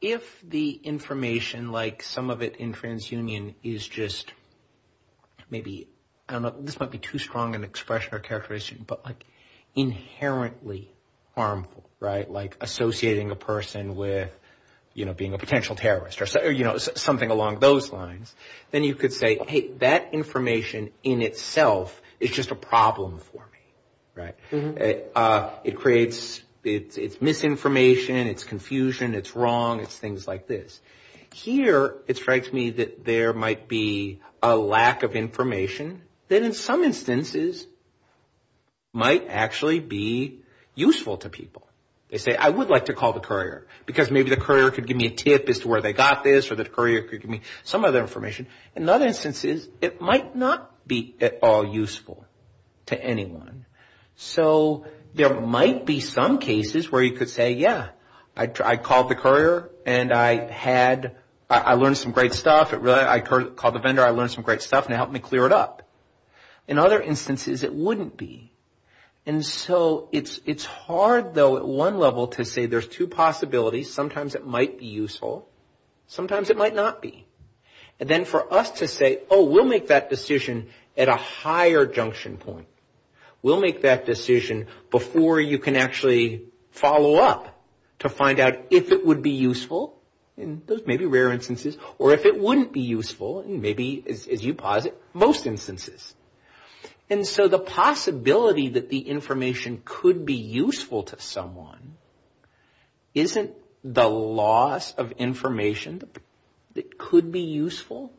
If the information, like some of it in TransUnion, is just maybe, I don't know, this might be too strong an expression or characterization, but inherently harmful, like associating a person with being a potential terrorist or something along those lines, then you could say, hey, that information in itself is just a problem for me. It's misinformation. It's confusion. It's wrong. It's things like this. Here, it strikes me that there might be a lack of information that in some instances might actually be useful to people. They say, I would like to call the courier, because maybe the courier could give me a tip as to where they got this or the courier could give me some other information. In other instances, it might not be at all useful to anyone. So there might be some cases where you could say, yeah, I called the courier and I learned some great stuff. I called the vendor. I learned some great stuff and it helped me clear it up. In other instances, it wouldn't be. And so it's hard, though, at one level to say there's two possibilities. Sometimes it might be useful. Sometimes it might not be. And then for us to say, oh, we'll make that decision at a higher junction point. We'll make that decision before you can actually follow up to find out if it would be useful. Those may be rare instances. Or if it wouldn't be useful, maybe, as you posit, most instances. And so the possibility that the information could be useful to someone, isn't the loss of information that could be useful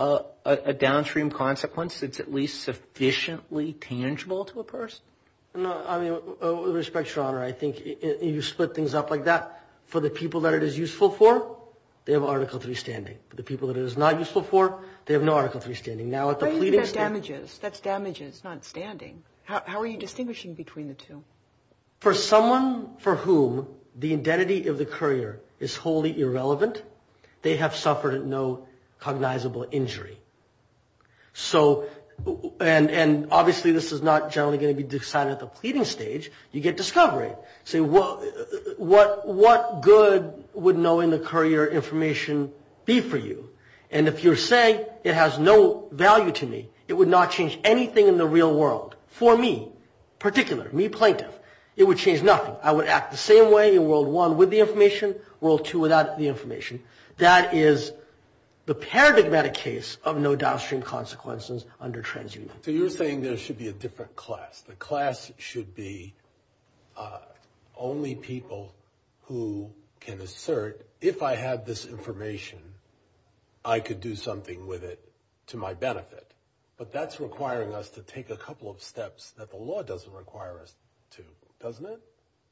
a downstream consequence that's at least sufficiently tangible to a person? With respect, I think you split things up like that. For the people that it is useful for, they have article 3 standing. For the people that it is not useful for, they have no article 3 standing. That's damages, not standing. How are you distinguishing between the two? For someone for whom the identity of the courier is wholly irrelevant, they have suffered no cognizable injury. And obviously this is not generally going to be decided at the pleading stage. You get discovery. What good would knowing the courier information be for you? And if you're saying it has no value to me, it would not change anything in the real world. For me in particular, me plaintiff, it would change nothing. I would act the same way in world 1 with the information, world 2 without the information. That is the paradigmatic case of no downstream consequences under transient. So you're saying there should be a different class. The class should be only people who can assert, if I had this information, I could do something with it to my benefit. But that's requiring us to take a couple of steps that the law doesn't require us to, doesn't it?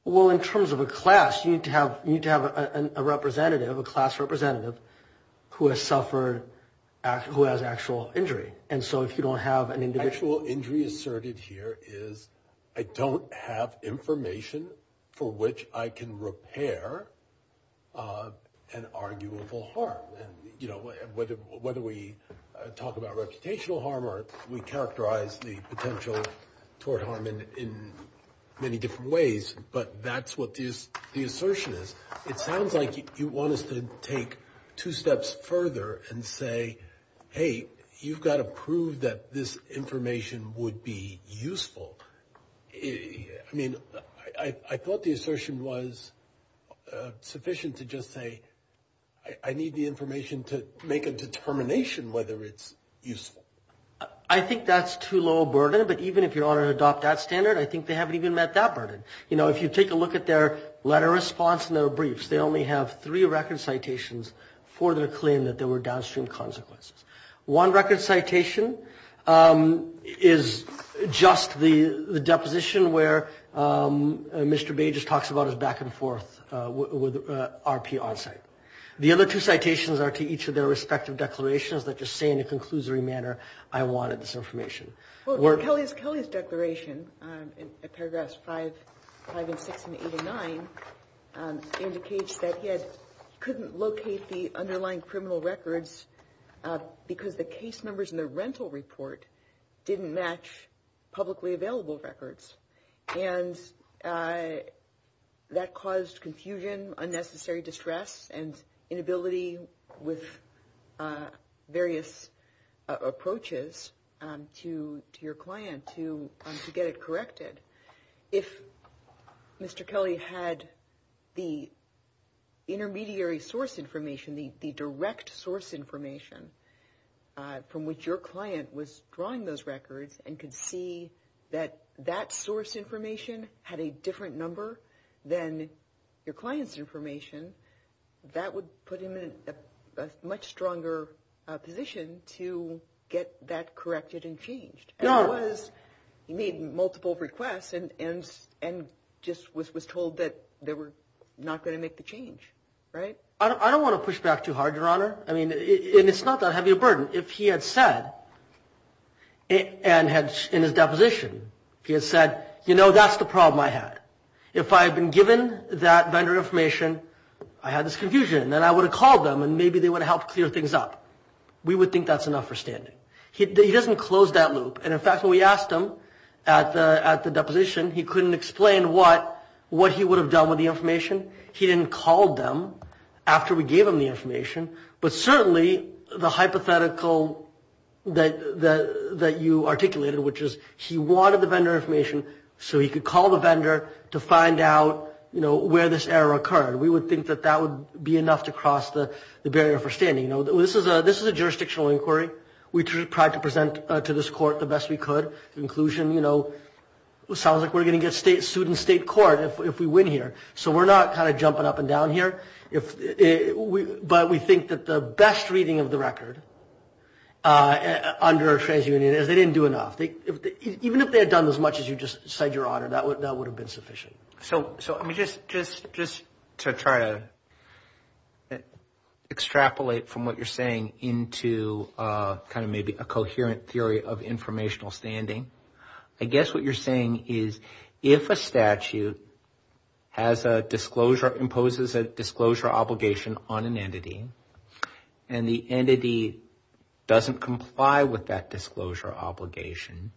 Well, in terms of a class, you need to have a representative, a class representative, who has suffered, who has actual injury. And so if you don't have an individual injury asserted here is, I don't have information for which I can repair an arguable harm. Whether we talk about reputational harm or we characterize the potential for harm in many different ways, but that's what the assertion is. It sounds like you want us to take two steps further and say, hey, you've got to prove that this information would be useful. I mean, I thought the assertion was sufficient to just say, I need the information to make a determination whether it's useful. I think that's too low a burden, but even if you're going to adopt that standard, I think they haven't even met that burden. You know, if you take a look at their letter response and their briefs, they only have three record citations for their claim that there were downstream consequences. One record citation is just the deposition where Mr. Bages talks about his back-and-forth with RP onsite. The other two citations are to each of their respective declarations that just say in a conclusory manner, I wanted this information. Kelly's declaration in paragraphs 5 and 6 and 8 and 9 indicates that he couldn't locate the underlying criminal records because the case numbers in the rental report didn't match publicly available records, and that caused confusion, unnecessary distress, and inability with various approaches to your client to get it corrected. If Mr. Kelly had the intermediary source information, the direct source information from which your client was drawing those records and could see that that source information had a different number than your client's information, that would put him in a much stronger position to get that corrected and changed. He made multiple requests and just was told that they were not going to make the change, right? I don't want to push back too hard, Your Honor. It's not that heavy a burden. If he had said in his deposition, he had said, you know, that's the problem I had. If I had been given that vendor information, I had this confusion, and I would have called them and maybe they would have helped clear things up. We would think that's enough for standing. He doesn't close that loop, and in fact when we asked him at the deposition, he couldn't explain what he would have done with the information. He didn't call them after we gave him the information, but certainly the hypothetical that you articulated, which is he wanted the vendor information so he could call the vendor to find out, you know, where this error occurred. We would think that that would be enough to cross the barrier for standing. This is a jurisdictional inquiry. We tried to present to this court the best we could. Inclusion, you know, sounds like we're going to get sued in state court if we win here. So we're not kind of jumping up and down here, but we think that the best reading of the record under a trans-union is they didn't do enough. Even if they had done as much as you just said, Your Honor, that would have been sufficient. So just to try to extrapolate from what you're saying into kind of maybe a coherent theory of informational standing, I guess what you're saying is if a statute imposes a disclosure obligation on an entity and the entity doesn't comply with that disclosure obligation,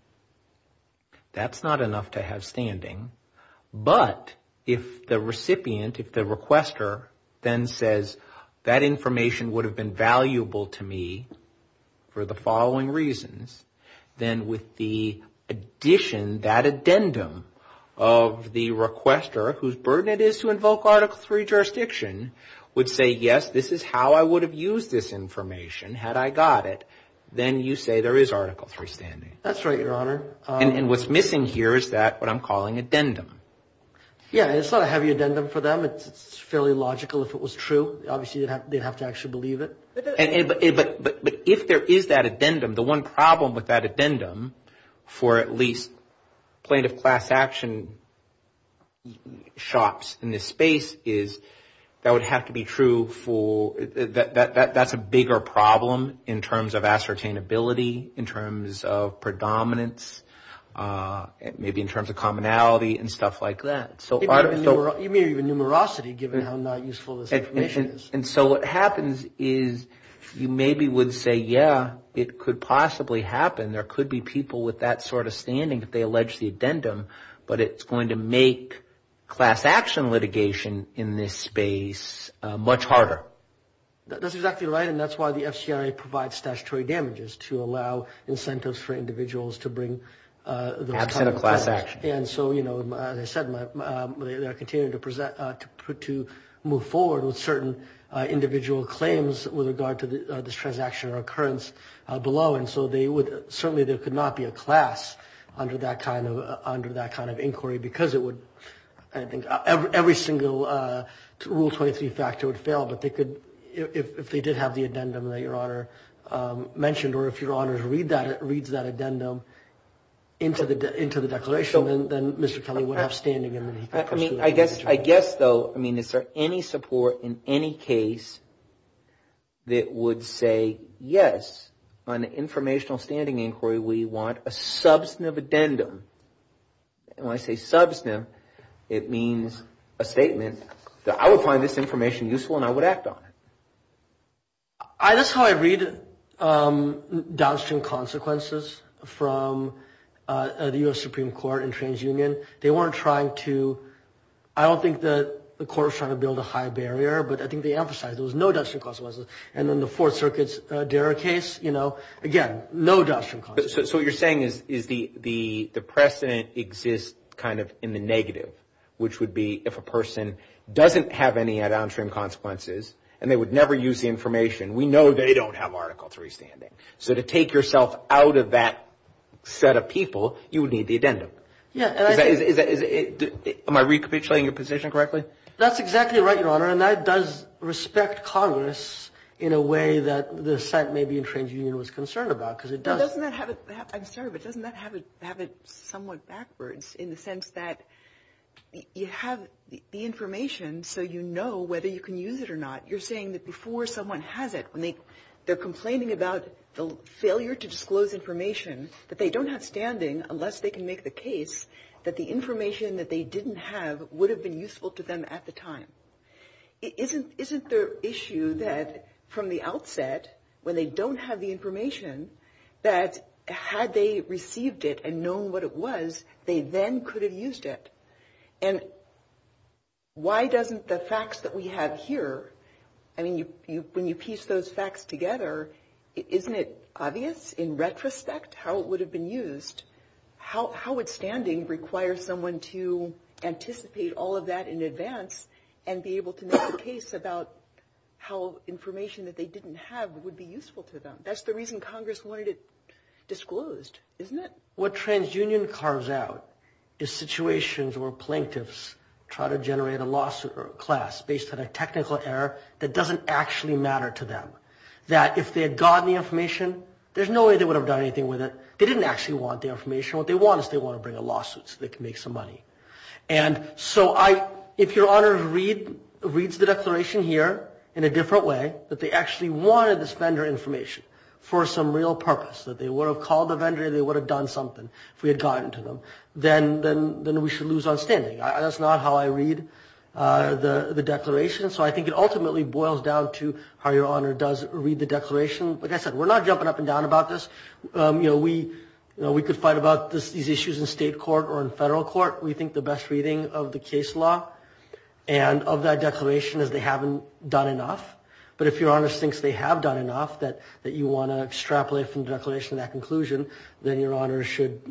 that's not enough to have standing. But if the recipient, if the requester then says that information would have been valuable to me for the following reasons, then with the addition, that addendum of the requester, whose burden it is to invoke Article III jurisdiction, would say, yes, this is how I would have used this information had I got it, then you say there is Article III standing. That's right, Your Honor. And what's missing here is that what I'm calling addendum. Yeah, it's not a heavy addendum for them. It's fairly logical if it was true. Obviously, they'd have to actually believe it. But if there is that addendum, the one problem with that addendum for at least plaintiff class action shops in this space is that would have to be true for – that's a bigger problem in terms of ascertainability, in terms of predominance, maybe in terms of commonality and stuff like that. You mean even numerosity given how not useful this information is. And so what happens is you maybe would say, yeah, it could possibly happen. There could be people with that sort of standing if they allege the addendum, but it's going to make class action litigation in this space much harder. That's exactly right, and that's why the FCRA provides statutory damages to allow incentives for individuals to bring – Absent of class action. And so, you know, as I said, they're continuing to present – to move forward with certain individual claims with regard to this transaction or occurrence below. And so they would – certainly there could not be a class under that kind of inquiry because it would – I think every single Rule 23 factor would fail, but they could – if they did have the addendum that Your Honor mentioned or if Your Honors reads that addendum into the declaration, then Mr. Kelly would have standing in the case. I guess, though, I mean if there's any support in any case that would say yes, on the informational standing inquiry we want a substantive addendum. And when I say substantive, it means a statement that I would find this information useful and I would act on it. That's how I read downstream consequences from the U.S. Supreme Court in TransUnion. They weren't trying to – I don't think the court was trying to build a high barrier, but I think they emphasized there was no downstream consequences. And in the Fourth Circuit's DERA case, you know, again, no downstream consequences. So what you're saying is the precedent exists kind of in the negative, which would be if a person doesn't have any downstream consequences and they would never use the information, we know they don't have articles of restanding. So to take yourself out of that set of people, you would need the addendum. Am I recapitulating your position correctly? That's exactly right, Your Honor, and that does respect Congress in a way that the site may be in TransUnion was concerned about because it does. I'm sorry, but doesn't that have it somewhat backwards in the sense that you have the information so you know whether you can use it or not? You're saying that before someone has it, they're complaining about the failure to disclose information that they don't have standing unless they can make the case that the information that they didn't have would have been useful to them at the time. Isn't there an issue that from the outset, when they don't have the information, that had they received it and known what it was, they then could have used it? And why doesn't the facts that we have here, I mean, when you piece those facts together, isn't it obvious in retrospect how it would have been used? How would standing require someone to anticipate all of that in advance and be able to make a case about how information that they didn't have would be useful to them? That's the reason Congress wanted it disclosed, isn't it? What TransUnion carves out is situations where plaintiffs try to generate a lawsuit or a class based on a technical error that doesn't actually matter to them. That if they had gotten the information, there's no way they would have done anything with it. They didn't actually want the information. What they want is they want to bring a lawsuit so they can make some money. And so if your Honor reads the declaration here in a different way, that they actually wanted this vendor information for some real purpose, that they would have called the vendor and they would have done something if we had gotten to them, then we should lose outstanding. That's not how I read the declaration. So I think it ultimately boils down to how your Honor does read the declaration. Like I said, we're not jumping up and down about this. We could fight about these issues in state court or in federal court. We think the best reading of the case law and of that declaration is they haven't done enough. But if your Honor thinks they have done enough, that you want to extrapolate from the declaration to that conclusion, then your Honor should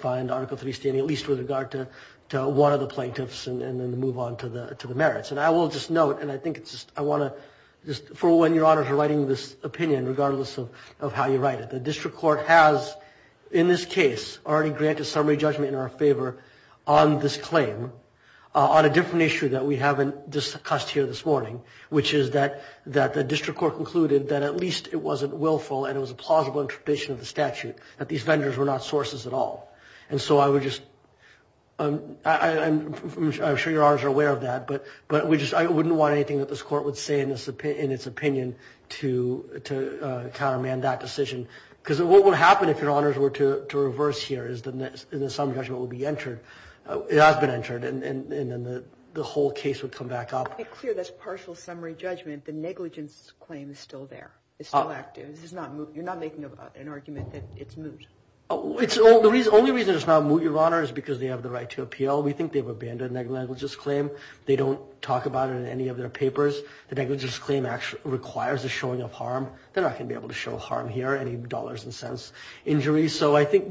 find Article 3 standing at least with regard to one of the plaintiffs and then move on to the merits. And I will just note, and I think it's just, I want to, for when your Honors are writing this opinion, regardless of how you write it, the district court has, in this case, already granted summary judgment in our favor on this claim, on a different issue that we haven't discussed here this morning, which is that the district court concluded that at least it wasn't willful and it was a plausible interpretation of the statute that these vendors were not sources at all. And so I would just, I'm sure your Honors are aware of that, but I wouldn't want anything that this court would say in its opinion to countermand that decision. Because what would happen if your Honors were to reverse here is the summary judgment would be entered, it has been entered, and then the whole case would come back up. It's clear that's partial summary judgment. The negligence claim is still there. It's still active. You're not making an argument that it's moot. The only reason it's not moot, your Honors, is because they have the right to appeal. We think they've abandoned negligence claim. They don't talk about it in any of their papers. The negligence claim actually requires the showing of harm. They're not going to be able to show harm here, any dollars and cents injuries. So I think...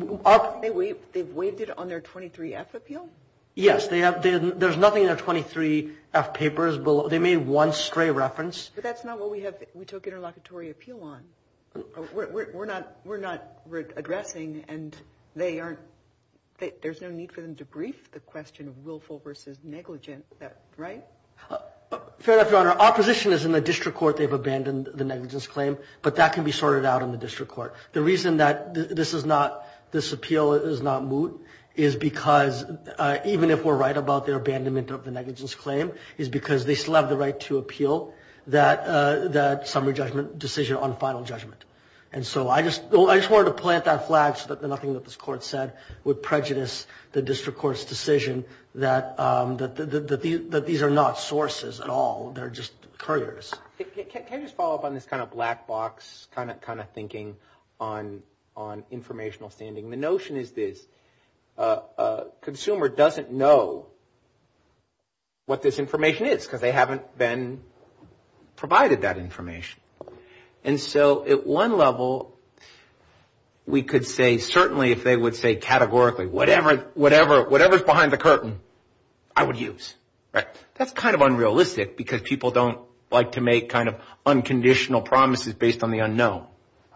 They've waived it on their 23F appeal? Yes. There's nothing in their 23F papers. They made one stray reference. But that's not what we took interlocutory appeal on. We're not addressing, and they aren't... There's no need for them to brief the question of willful versus negligent, right? Fair enough, Your Honor. Opposition is in the district court. They've abandoned the negligence claim. But that can be sorted out in the district court. The reason that this is not... This appeal is not moot is because, even if we're right about their abandonment of the negligence claim, is because they still have the right to appeal that summary judgment decision on final judgment. And so I just wanted to plant that flag so that nothing that this court said would prejudice the district court's decision that these are not sources at all. They're just couriers. Can I just follow up on this kind of black box kind of thinking on informational standing? The notion is this. A consumer doesn't know what this information is because they haven't been provided that information. And so at one level, we could say certainly if they would say categorically, whatever is behind the curtain, I would use. That's kind of unrealistic because people don't like to make kind of unconditional promises based on the unknown.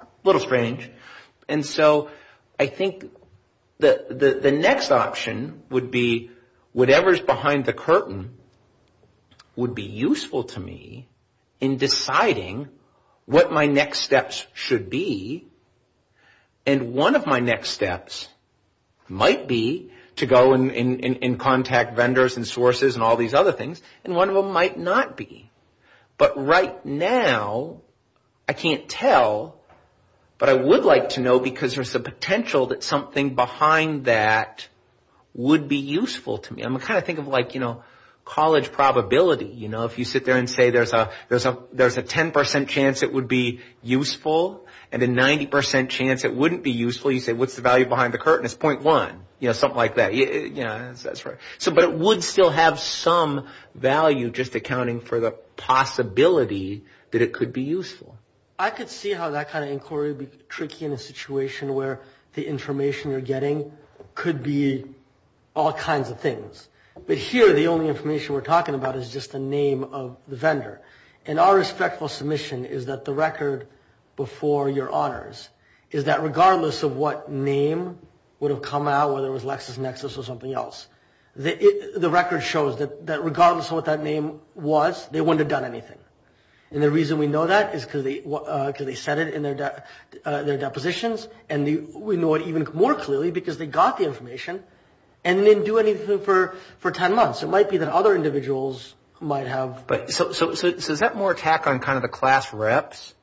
A little strange. And so I think the next option would be whatever is behind the curtain would be useful to me in deciding what my next steps should be. And one of my next steps might be to go and contact vendors and sources and all these other things. And one of them might not be. But right now, I can't tell. But I would like to know because there's a potential that something behind that would be useful to me. I'm going to kind of think of like, you know, college probability. You know, if you sit there and say there's a 10% chance it would be useful and a 90% chance it wouldn't be useful. You say, what's the value behind the curtain? It's 0.1. You know, something like that. Yeah, that's right. But it would still have some value just accounting for the possibility that it could be useful. I could see how that kind of inquiry would be tricky in a situation where the information you're getting could be all kinds of things. But here, the only information we're talking about is just the name of the vendor. And our respectful submission is that the record before your honors is that regardless of what name would have come out, whether it was LexisNexis or something else, the record shows that regardless of what that name was, they wouldn't have done anything. And the reason we know that is because they said it in their depositions. And we know it even more clearly because they got the information and didn't do anything for 10 months. It might be that other individuals might have. So is that more attack on kind of the class reps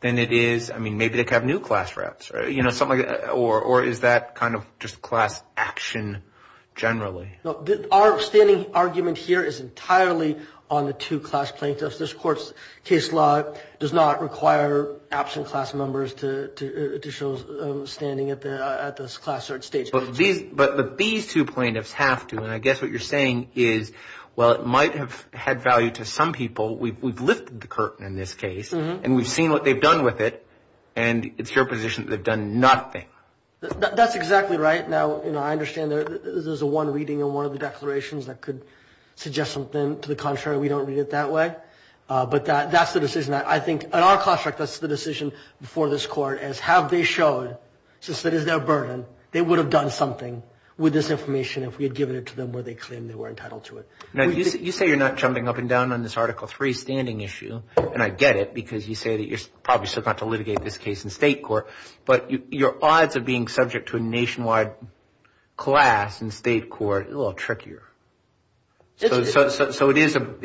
than it is, I mean, maybe they have new class reps, or is that kind of just class action generally? Our standing argument here is entirely on the two class plaintiffs. This court's case law does not require absent class members to show standing at this class search stage. But these two plaintiffs have to, and I guess what you're saying is, well, it might have had value to some people. We've lifted the curtain in this case, and we've seen what they've done with it, and it's your position that they've done nothing. That's exactly right. Now, you know, I understand there's one reading in one of the declarations that could suggest something. To the contrary, we don't read it that way. But that's the decision that I think, in our construct, that's the decision before this court, is have they shown, since it is their burden, they would have done something with this information if we had given it to them where they claimed they were entitled to it. Now, you say you're not jumping up and down on this Article III standing issue, and I get it because you say that you're probably still going to have to litigate this case in state court, but your odds of being subject to a nationwide class in state court is a little trickier. So it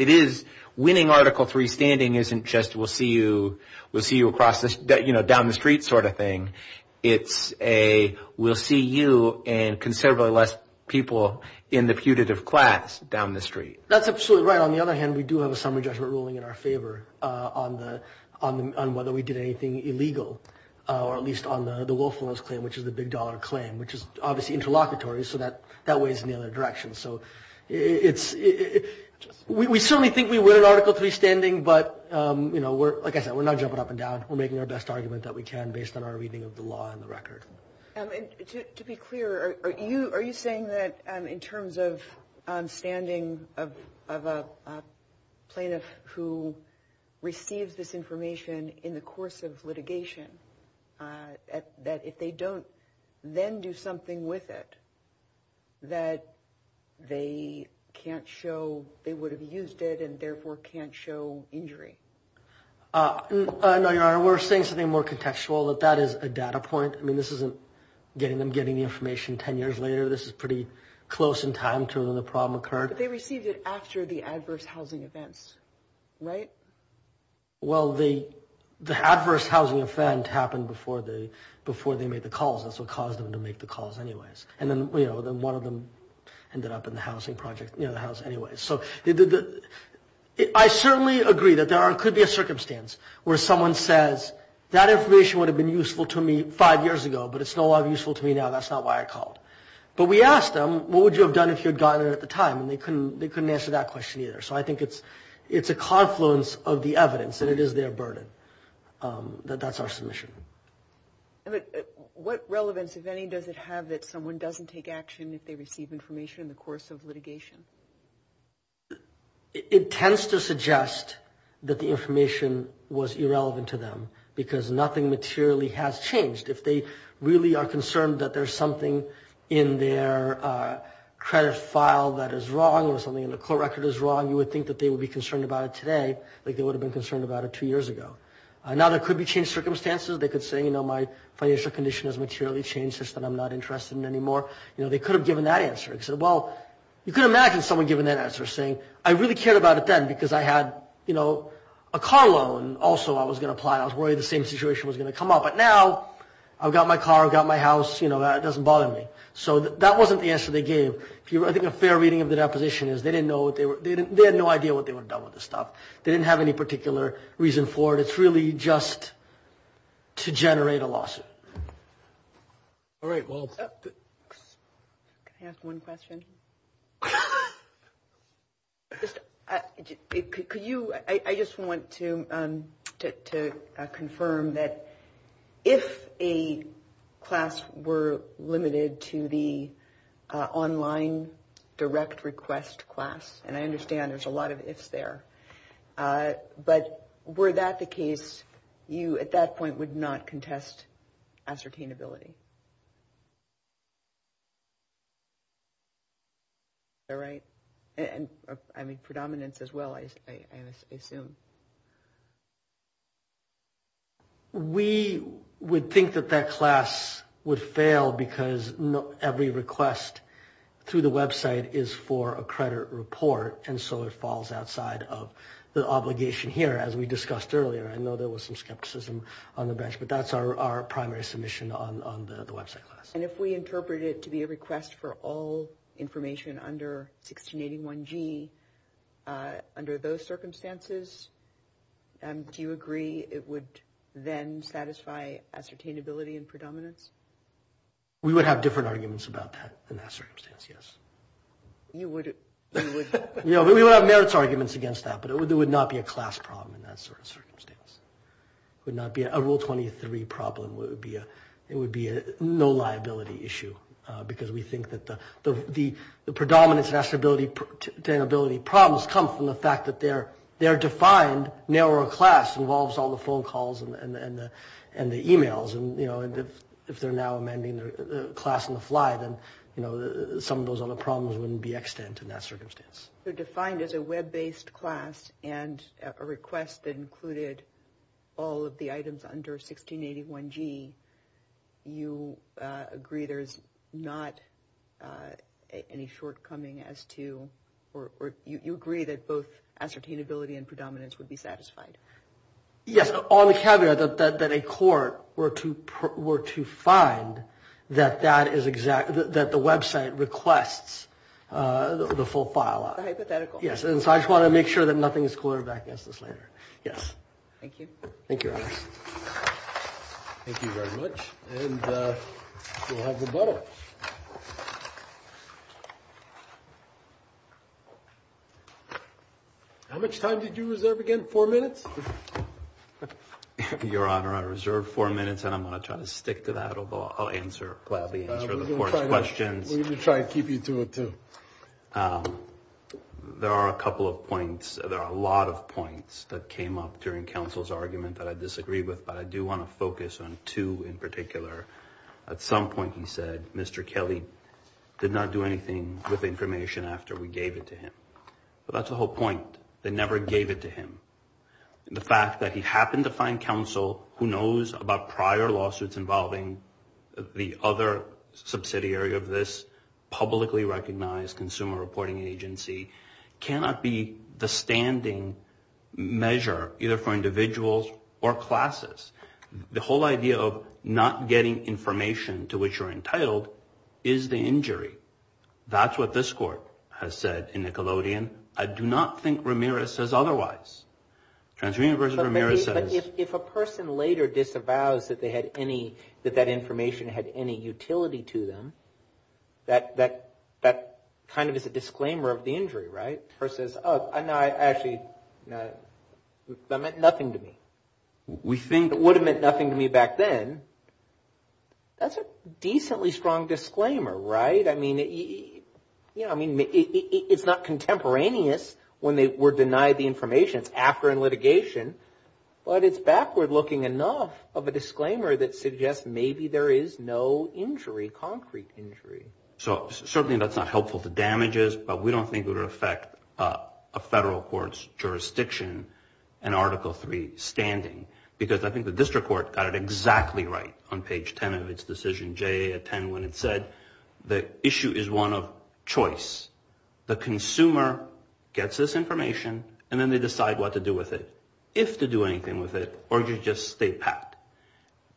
is winning Article III standing isn't just we'll see you down the street sort of thing. It's a we'll see you and considerably less people in the putative class down the street. That's absolutely right. On the other hand, we do have a summary judgment ruling in our favor on whether we did anything illegal, or at least on the Wolfson's claim, which is the big dollar claim, which is obviously interlocutory, so that weighs in the other direction. So we certainly think we win Article III standing, but, you know, like I said, we're not jumping up and down. We're making our best argument that we can based on our reading of the law and the record. To be clear, are you saying that in terms of standing of a plaintiff who receives this information in the course of litigation, that if they don't then do something with it, that they can't show they would have used it and therefore can't show injury? No, Your Honor. Your Honor, we're saying something more contextual that that is a data point. I mean, this isn't getting them getting the information 10 years later. This is pretty close in time to when the problem occurred. But they received it after the adverse housing events, right? Well, the adverse housing event happened before they made the calls. That's what caused them to make the calls anyways. And then, you know, one of them ended up in the housing project, you know, the house anyways. So I certainly agree that there could be a circumstance where someone says, that information would have been useful to me five years ago, but it's no longer useful to me now. That's not why I called. But we asked them, what would you have done if you had gotten it at the time? And they couldn't answer that question either. So I think it's a confluence of the evidence that it is their burden that that's our submission. What relevance, if any, does it have that someone doesn't take action if they receive information in the course of litigation? It tends to suggest that the information was irrelevant to them because nothing materially has changed. If they really are concerned that there's something in their credit file that is wrong or something in their court record is wrong, you would think that they would be concerned about it today like they would have been concerned about it two years ago. Now there could be changed circumstances. They could say, you know, my financial condition has materially changed such that I'm not interested anymore. You know, they could have given that answer. They said, well, you could imagine someone giving that answer saying, I really cared about it then because I had, you know, a car loan also I was going to apply. I was worried the same situation was going to come up. But now I've got my car, I've got my house, you know, that doesn't bother me. So that wasn't the answer they gave. I think a fair reading of the deposition is they didn't know what they were, they had no idea what they would have done with this stuff. They didn't have any particular reason for it. It's really just to generate a lawsuit. All right. Can I ask one question? I just want to confirm that if a class were limited to the online direct request class, and I understand there's a lot of ifs there, but were that the case, you at that point would not contest ascertainability? Is that right? I mean, predominance as well, I assume. We would think that that class would fail because every request through the website is for a credit report, and so it falls outside of the obligation here, as we discussed earlier. I know there was some skepticism on the bench, but that's our primary submission on the website. And if we interpret it to be a request for all information under 1681G, under those circumstances, do you agree it would then satisfy ascertainability and predominance? We would have different arguments about that in that circumstance, yes. We would have merits arguments against that, but it would not be a class problem in that sort of circumstance. It would not be a Rule 23 problem. It would be a no liability issue because we think that the predominance of ascertainability problems come from the fact that their defined, narrower class involves all the phone calls and the emails. If they're now amending the class on the fly, then some of those other problems wouldn't be extant in that circumstance. So defined as a web-based class and a request that included all of the items under 1681G, you agree there's not any shortcoming as to, or you agree that both ascertainability and predominance would be satisfied? Yes. On the caveat that a court were to find that that is exact, that the website requests the full file. The hypothetical. Yes. And so I just want to make sure that nothing is quoted back against this letter. Yes. Thank you. Thank you, Your Honor. Thank you very much. And we'll have rebuttal. How much time did you reserve again? Four minutes? Your Honor, I reserved four minutes and I'm going to try to stick to that. I'll gladly answer the court's questions. We'll try to keep you to it, too. There are a couple of points. There are a lot of points that came up during counsel's argument that I disagree with, but I do want to focus on two in particular. At some point he said Mr. Kelly did not do anything with information after we gave it to him. That's the whole point. They never gave it to him. The fact that he happened to find counsel who knows about prior lawsuits involving the other subsidiary of this publicly recognized consumer reporting agency cannot be the standing measure, either for individuals or classes. The whole idea of not getting information to which you're entitled is the injury. That's what this court has said in Nickelodeon. I do not think Ramirez says otherwise. If a person later disavows that they had any, that that information had any utility to them, that kind of is a disclaimer of the injury, right? Versus, oh, no, I actually, that meant nothing to me. We think it would have meant nothing to me back then. That's a decently strong disclaimer, right? I mean, it's not contemporaneous when they were denied the information after litigation, but it's backward looking enough of a disclaimer that suggests maybe there is no injury, concrete injury. So certainly that's not helpful to damages, but we don't think it would affect a federal court's jurisdiction in Article III standing, because I think the district court got it exactly right on page 10 of its decision, J.A. 10, when it said the issue is one of choice. The consumer gets this information, and then they decide what to do with it, if to do anything with it, or you just stay pat.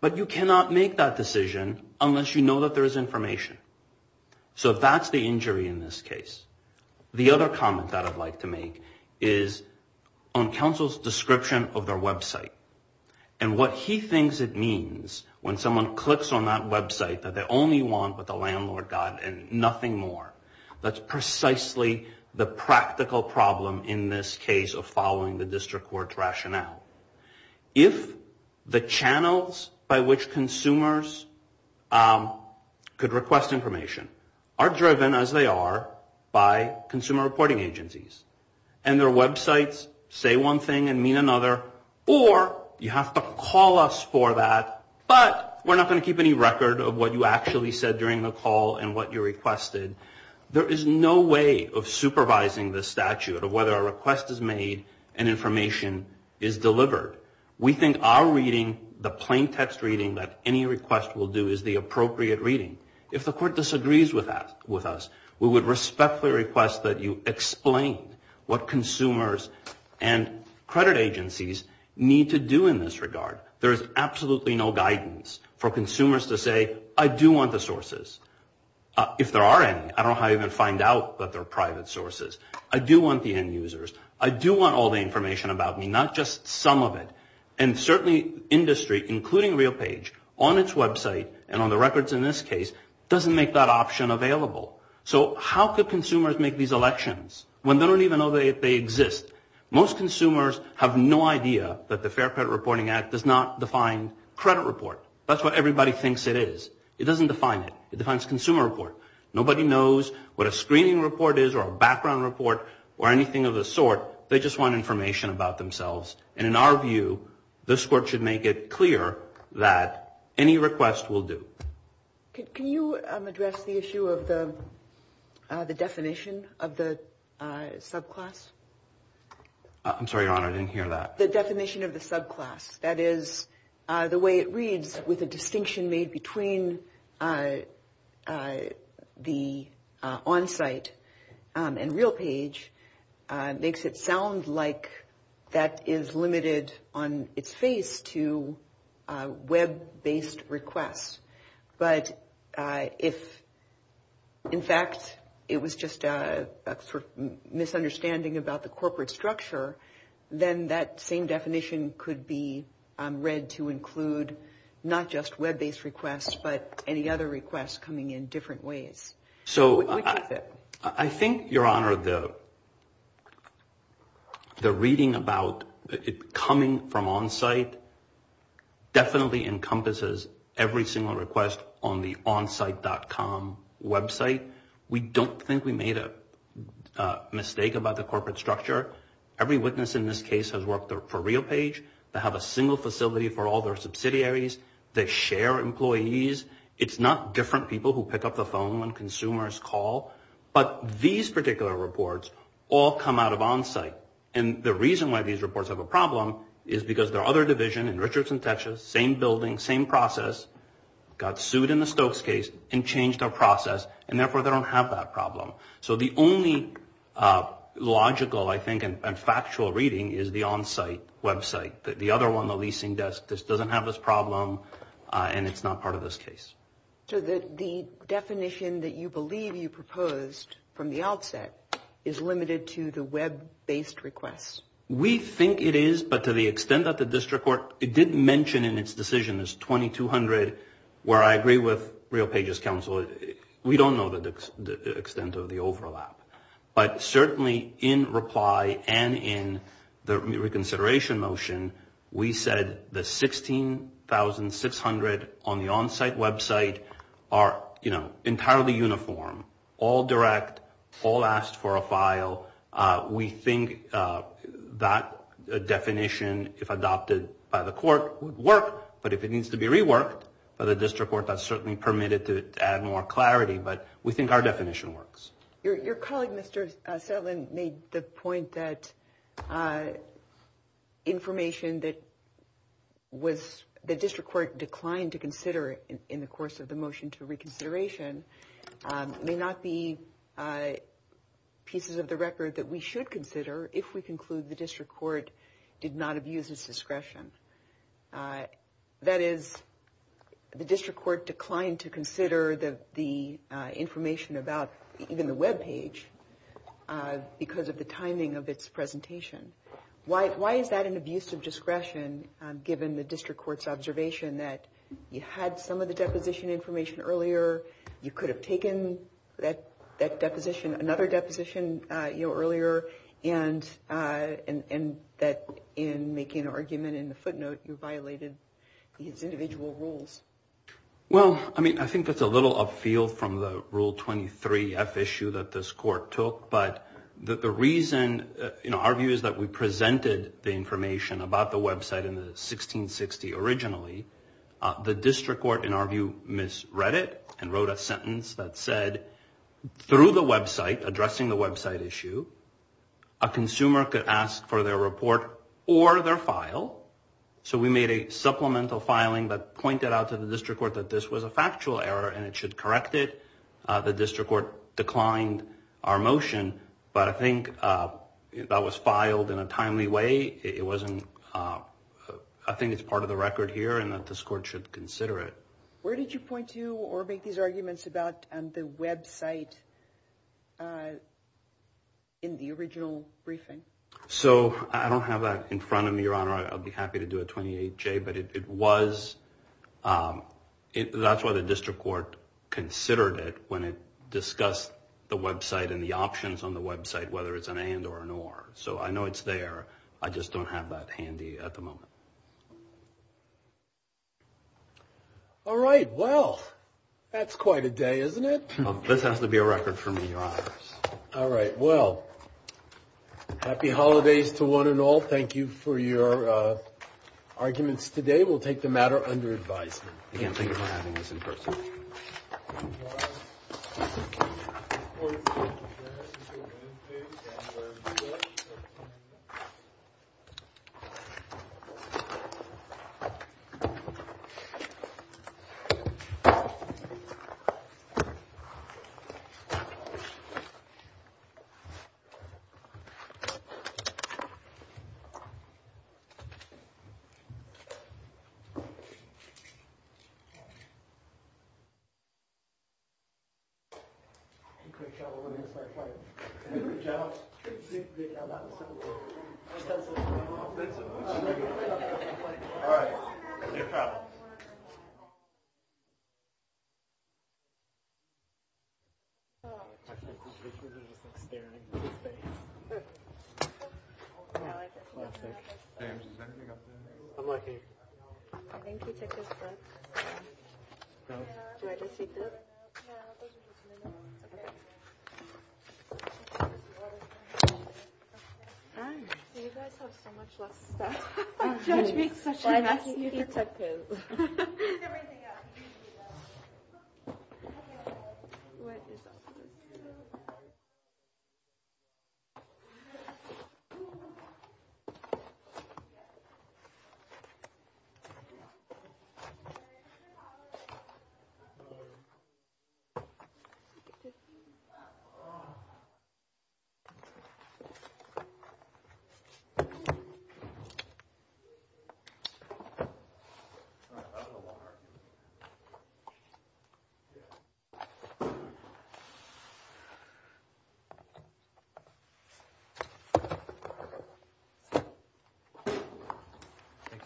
But you cannot make that decision unless you know that there is information. So that's the injury in this case. The other comment that I'd like to make is on counsel's description of their website and what he thinks it means when someone clicks on that website that they only want what the landlord got and nothing more. That's precisely the practical problem in this case of following the district court's rationale. If the channels by which consumers could request information are driven as they are by consumer reporting agencies, and their websites say one thing and mean another, or you have to call us for that, but we're not going to keep any record of what you actually said during the call and what you requested, there is no way of supervising the statute of whether a request is made and information is delivered. We think our reading, the plain text reading that any request will do, is the appropriate reading. If the court disagrees with us, we would respectfully request that you explain what consumers and credit agencies need to do in this regard. There is absolutely no guidance for consumers to say, I do want the sources. If there are any, I don't know how you're going to find out that they're private sources. I do want the end users. I do want all the information about me, not just some of it. And certainly industry, including RealPage, on its website and on the records in this case, doesn't make that option available. So how could consumers make these elections when they don't even know that they exist? Most consumers have no idea that the Fair Credit Reporting Act does not define credit report. That's what everybody thinks it is. It doesn't define it. It defines consumer report. Nobody knows what a screening report is or a background report or anything of the sort. They just want information about themselves. And in our view, this court should make it clear that any request will do. Can you address the issue of the definition of the subclass? I'm sorry, Your Honor. I didn't hear that. The definition of the subclass, that is the way it reads with a distinction made between the onsite and RealPage makes it sound like that is limited on its face to web-based requests. But if, in fact, it was just a sort of misunderstanding about the corporate structure, then that same definition could be read to include not just web-based requests, but any other requests coming in different ways. So I think, Your Honor, the reading about it coming from onsite definitely encompasses every single request on the onsite.com website. We don't think we made a mistake about the corporate structure. Every witness in this case has worked for RealPage. They have a single facility for all their subsidiaries. They share employees. It's not different people who pick up the phone when consumers call. But these particular reports all come out of onsite. And the reason why these reports have a problem is because their other division in Richardson, Texas, same building, same process, got sued in the Stokes case and changed their process. And therefore, they don't have that problem. So the only logical, I think, and factual reading is the onsite website. The other one, the leasing desk, just doesn't have this problem and it's not part of this case. So the definition that you believe you proposed from the outset is limited to the web-based requests? We think it is, but to the extent that the district court did mention in its decision, it's 2200, where I agree with RealPage's counsel, we don't know the extent of the overlap. But certainly in reply and in the reconsideration motion, we said the 16,600 on the onsite website are, you know, entirely uniform, all direct, all asked for a file. We think that definition, if adopted by the court, would work. But if it needs to be reworked, the district court has certainly permitted it to add more clarity. But we think our definition works. Your colleague, Mr. Soutland, made the point that information that was the district court declined to consider in the course of the motion to reconsideration may not be pieces of the record that we should consider if we conclude the district court did not abuse its discretion. That is, the district court declined to consider the information about even the webpage because of the timing of its presentation. Why is that an abuse of discretion given the district court's observation that you had some of the deposition information earlier, you could have taken that deposition, another deposition earlier, and that in making an argument in the footnote, you violated these individual rules? Well, I mean, I think that's a little off field from the Rule 23F issue that this court took. But the reason, you know, our view is that we presented the information about the website in the 1660 originally. The district court, in our view, misread it and wrote a sentence that said through the website, addressing the website issue, a consumer could ask for their report or their file. So we made a supplemental filing that pointed out to the district court that this was a factual error and it should correct it. The district court declined our motion, but I think that was filed in a timely way. It wasn't, I think it's part of the record here and that this court should consider it. Where did you point to or make these arguments about the website in the original briefing? So I don't have that in front of me, Your Honor. I'd be happy to do a 28J, but it was, that's what the district court considered it when it discussed the website and the options on the website, whether it's an and or an or. So I know it's there. I just don't have that handy at the moment. All right. Well, that's quite a day, isn't it? This has to be a record for me, Your Honor. All right. Well, happy holidays to one and all. Thank you for your arguments today. We'll take the matter under advisement. I can't believe I'm having this in person. Thank you. Thank you. Thank you. Take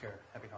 care. Happy holidays.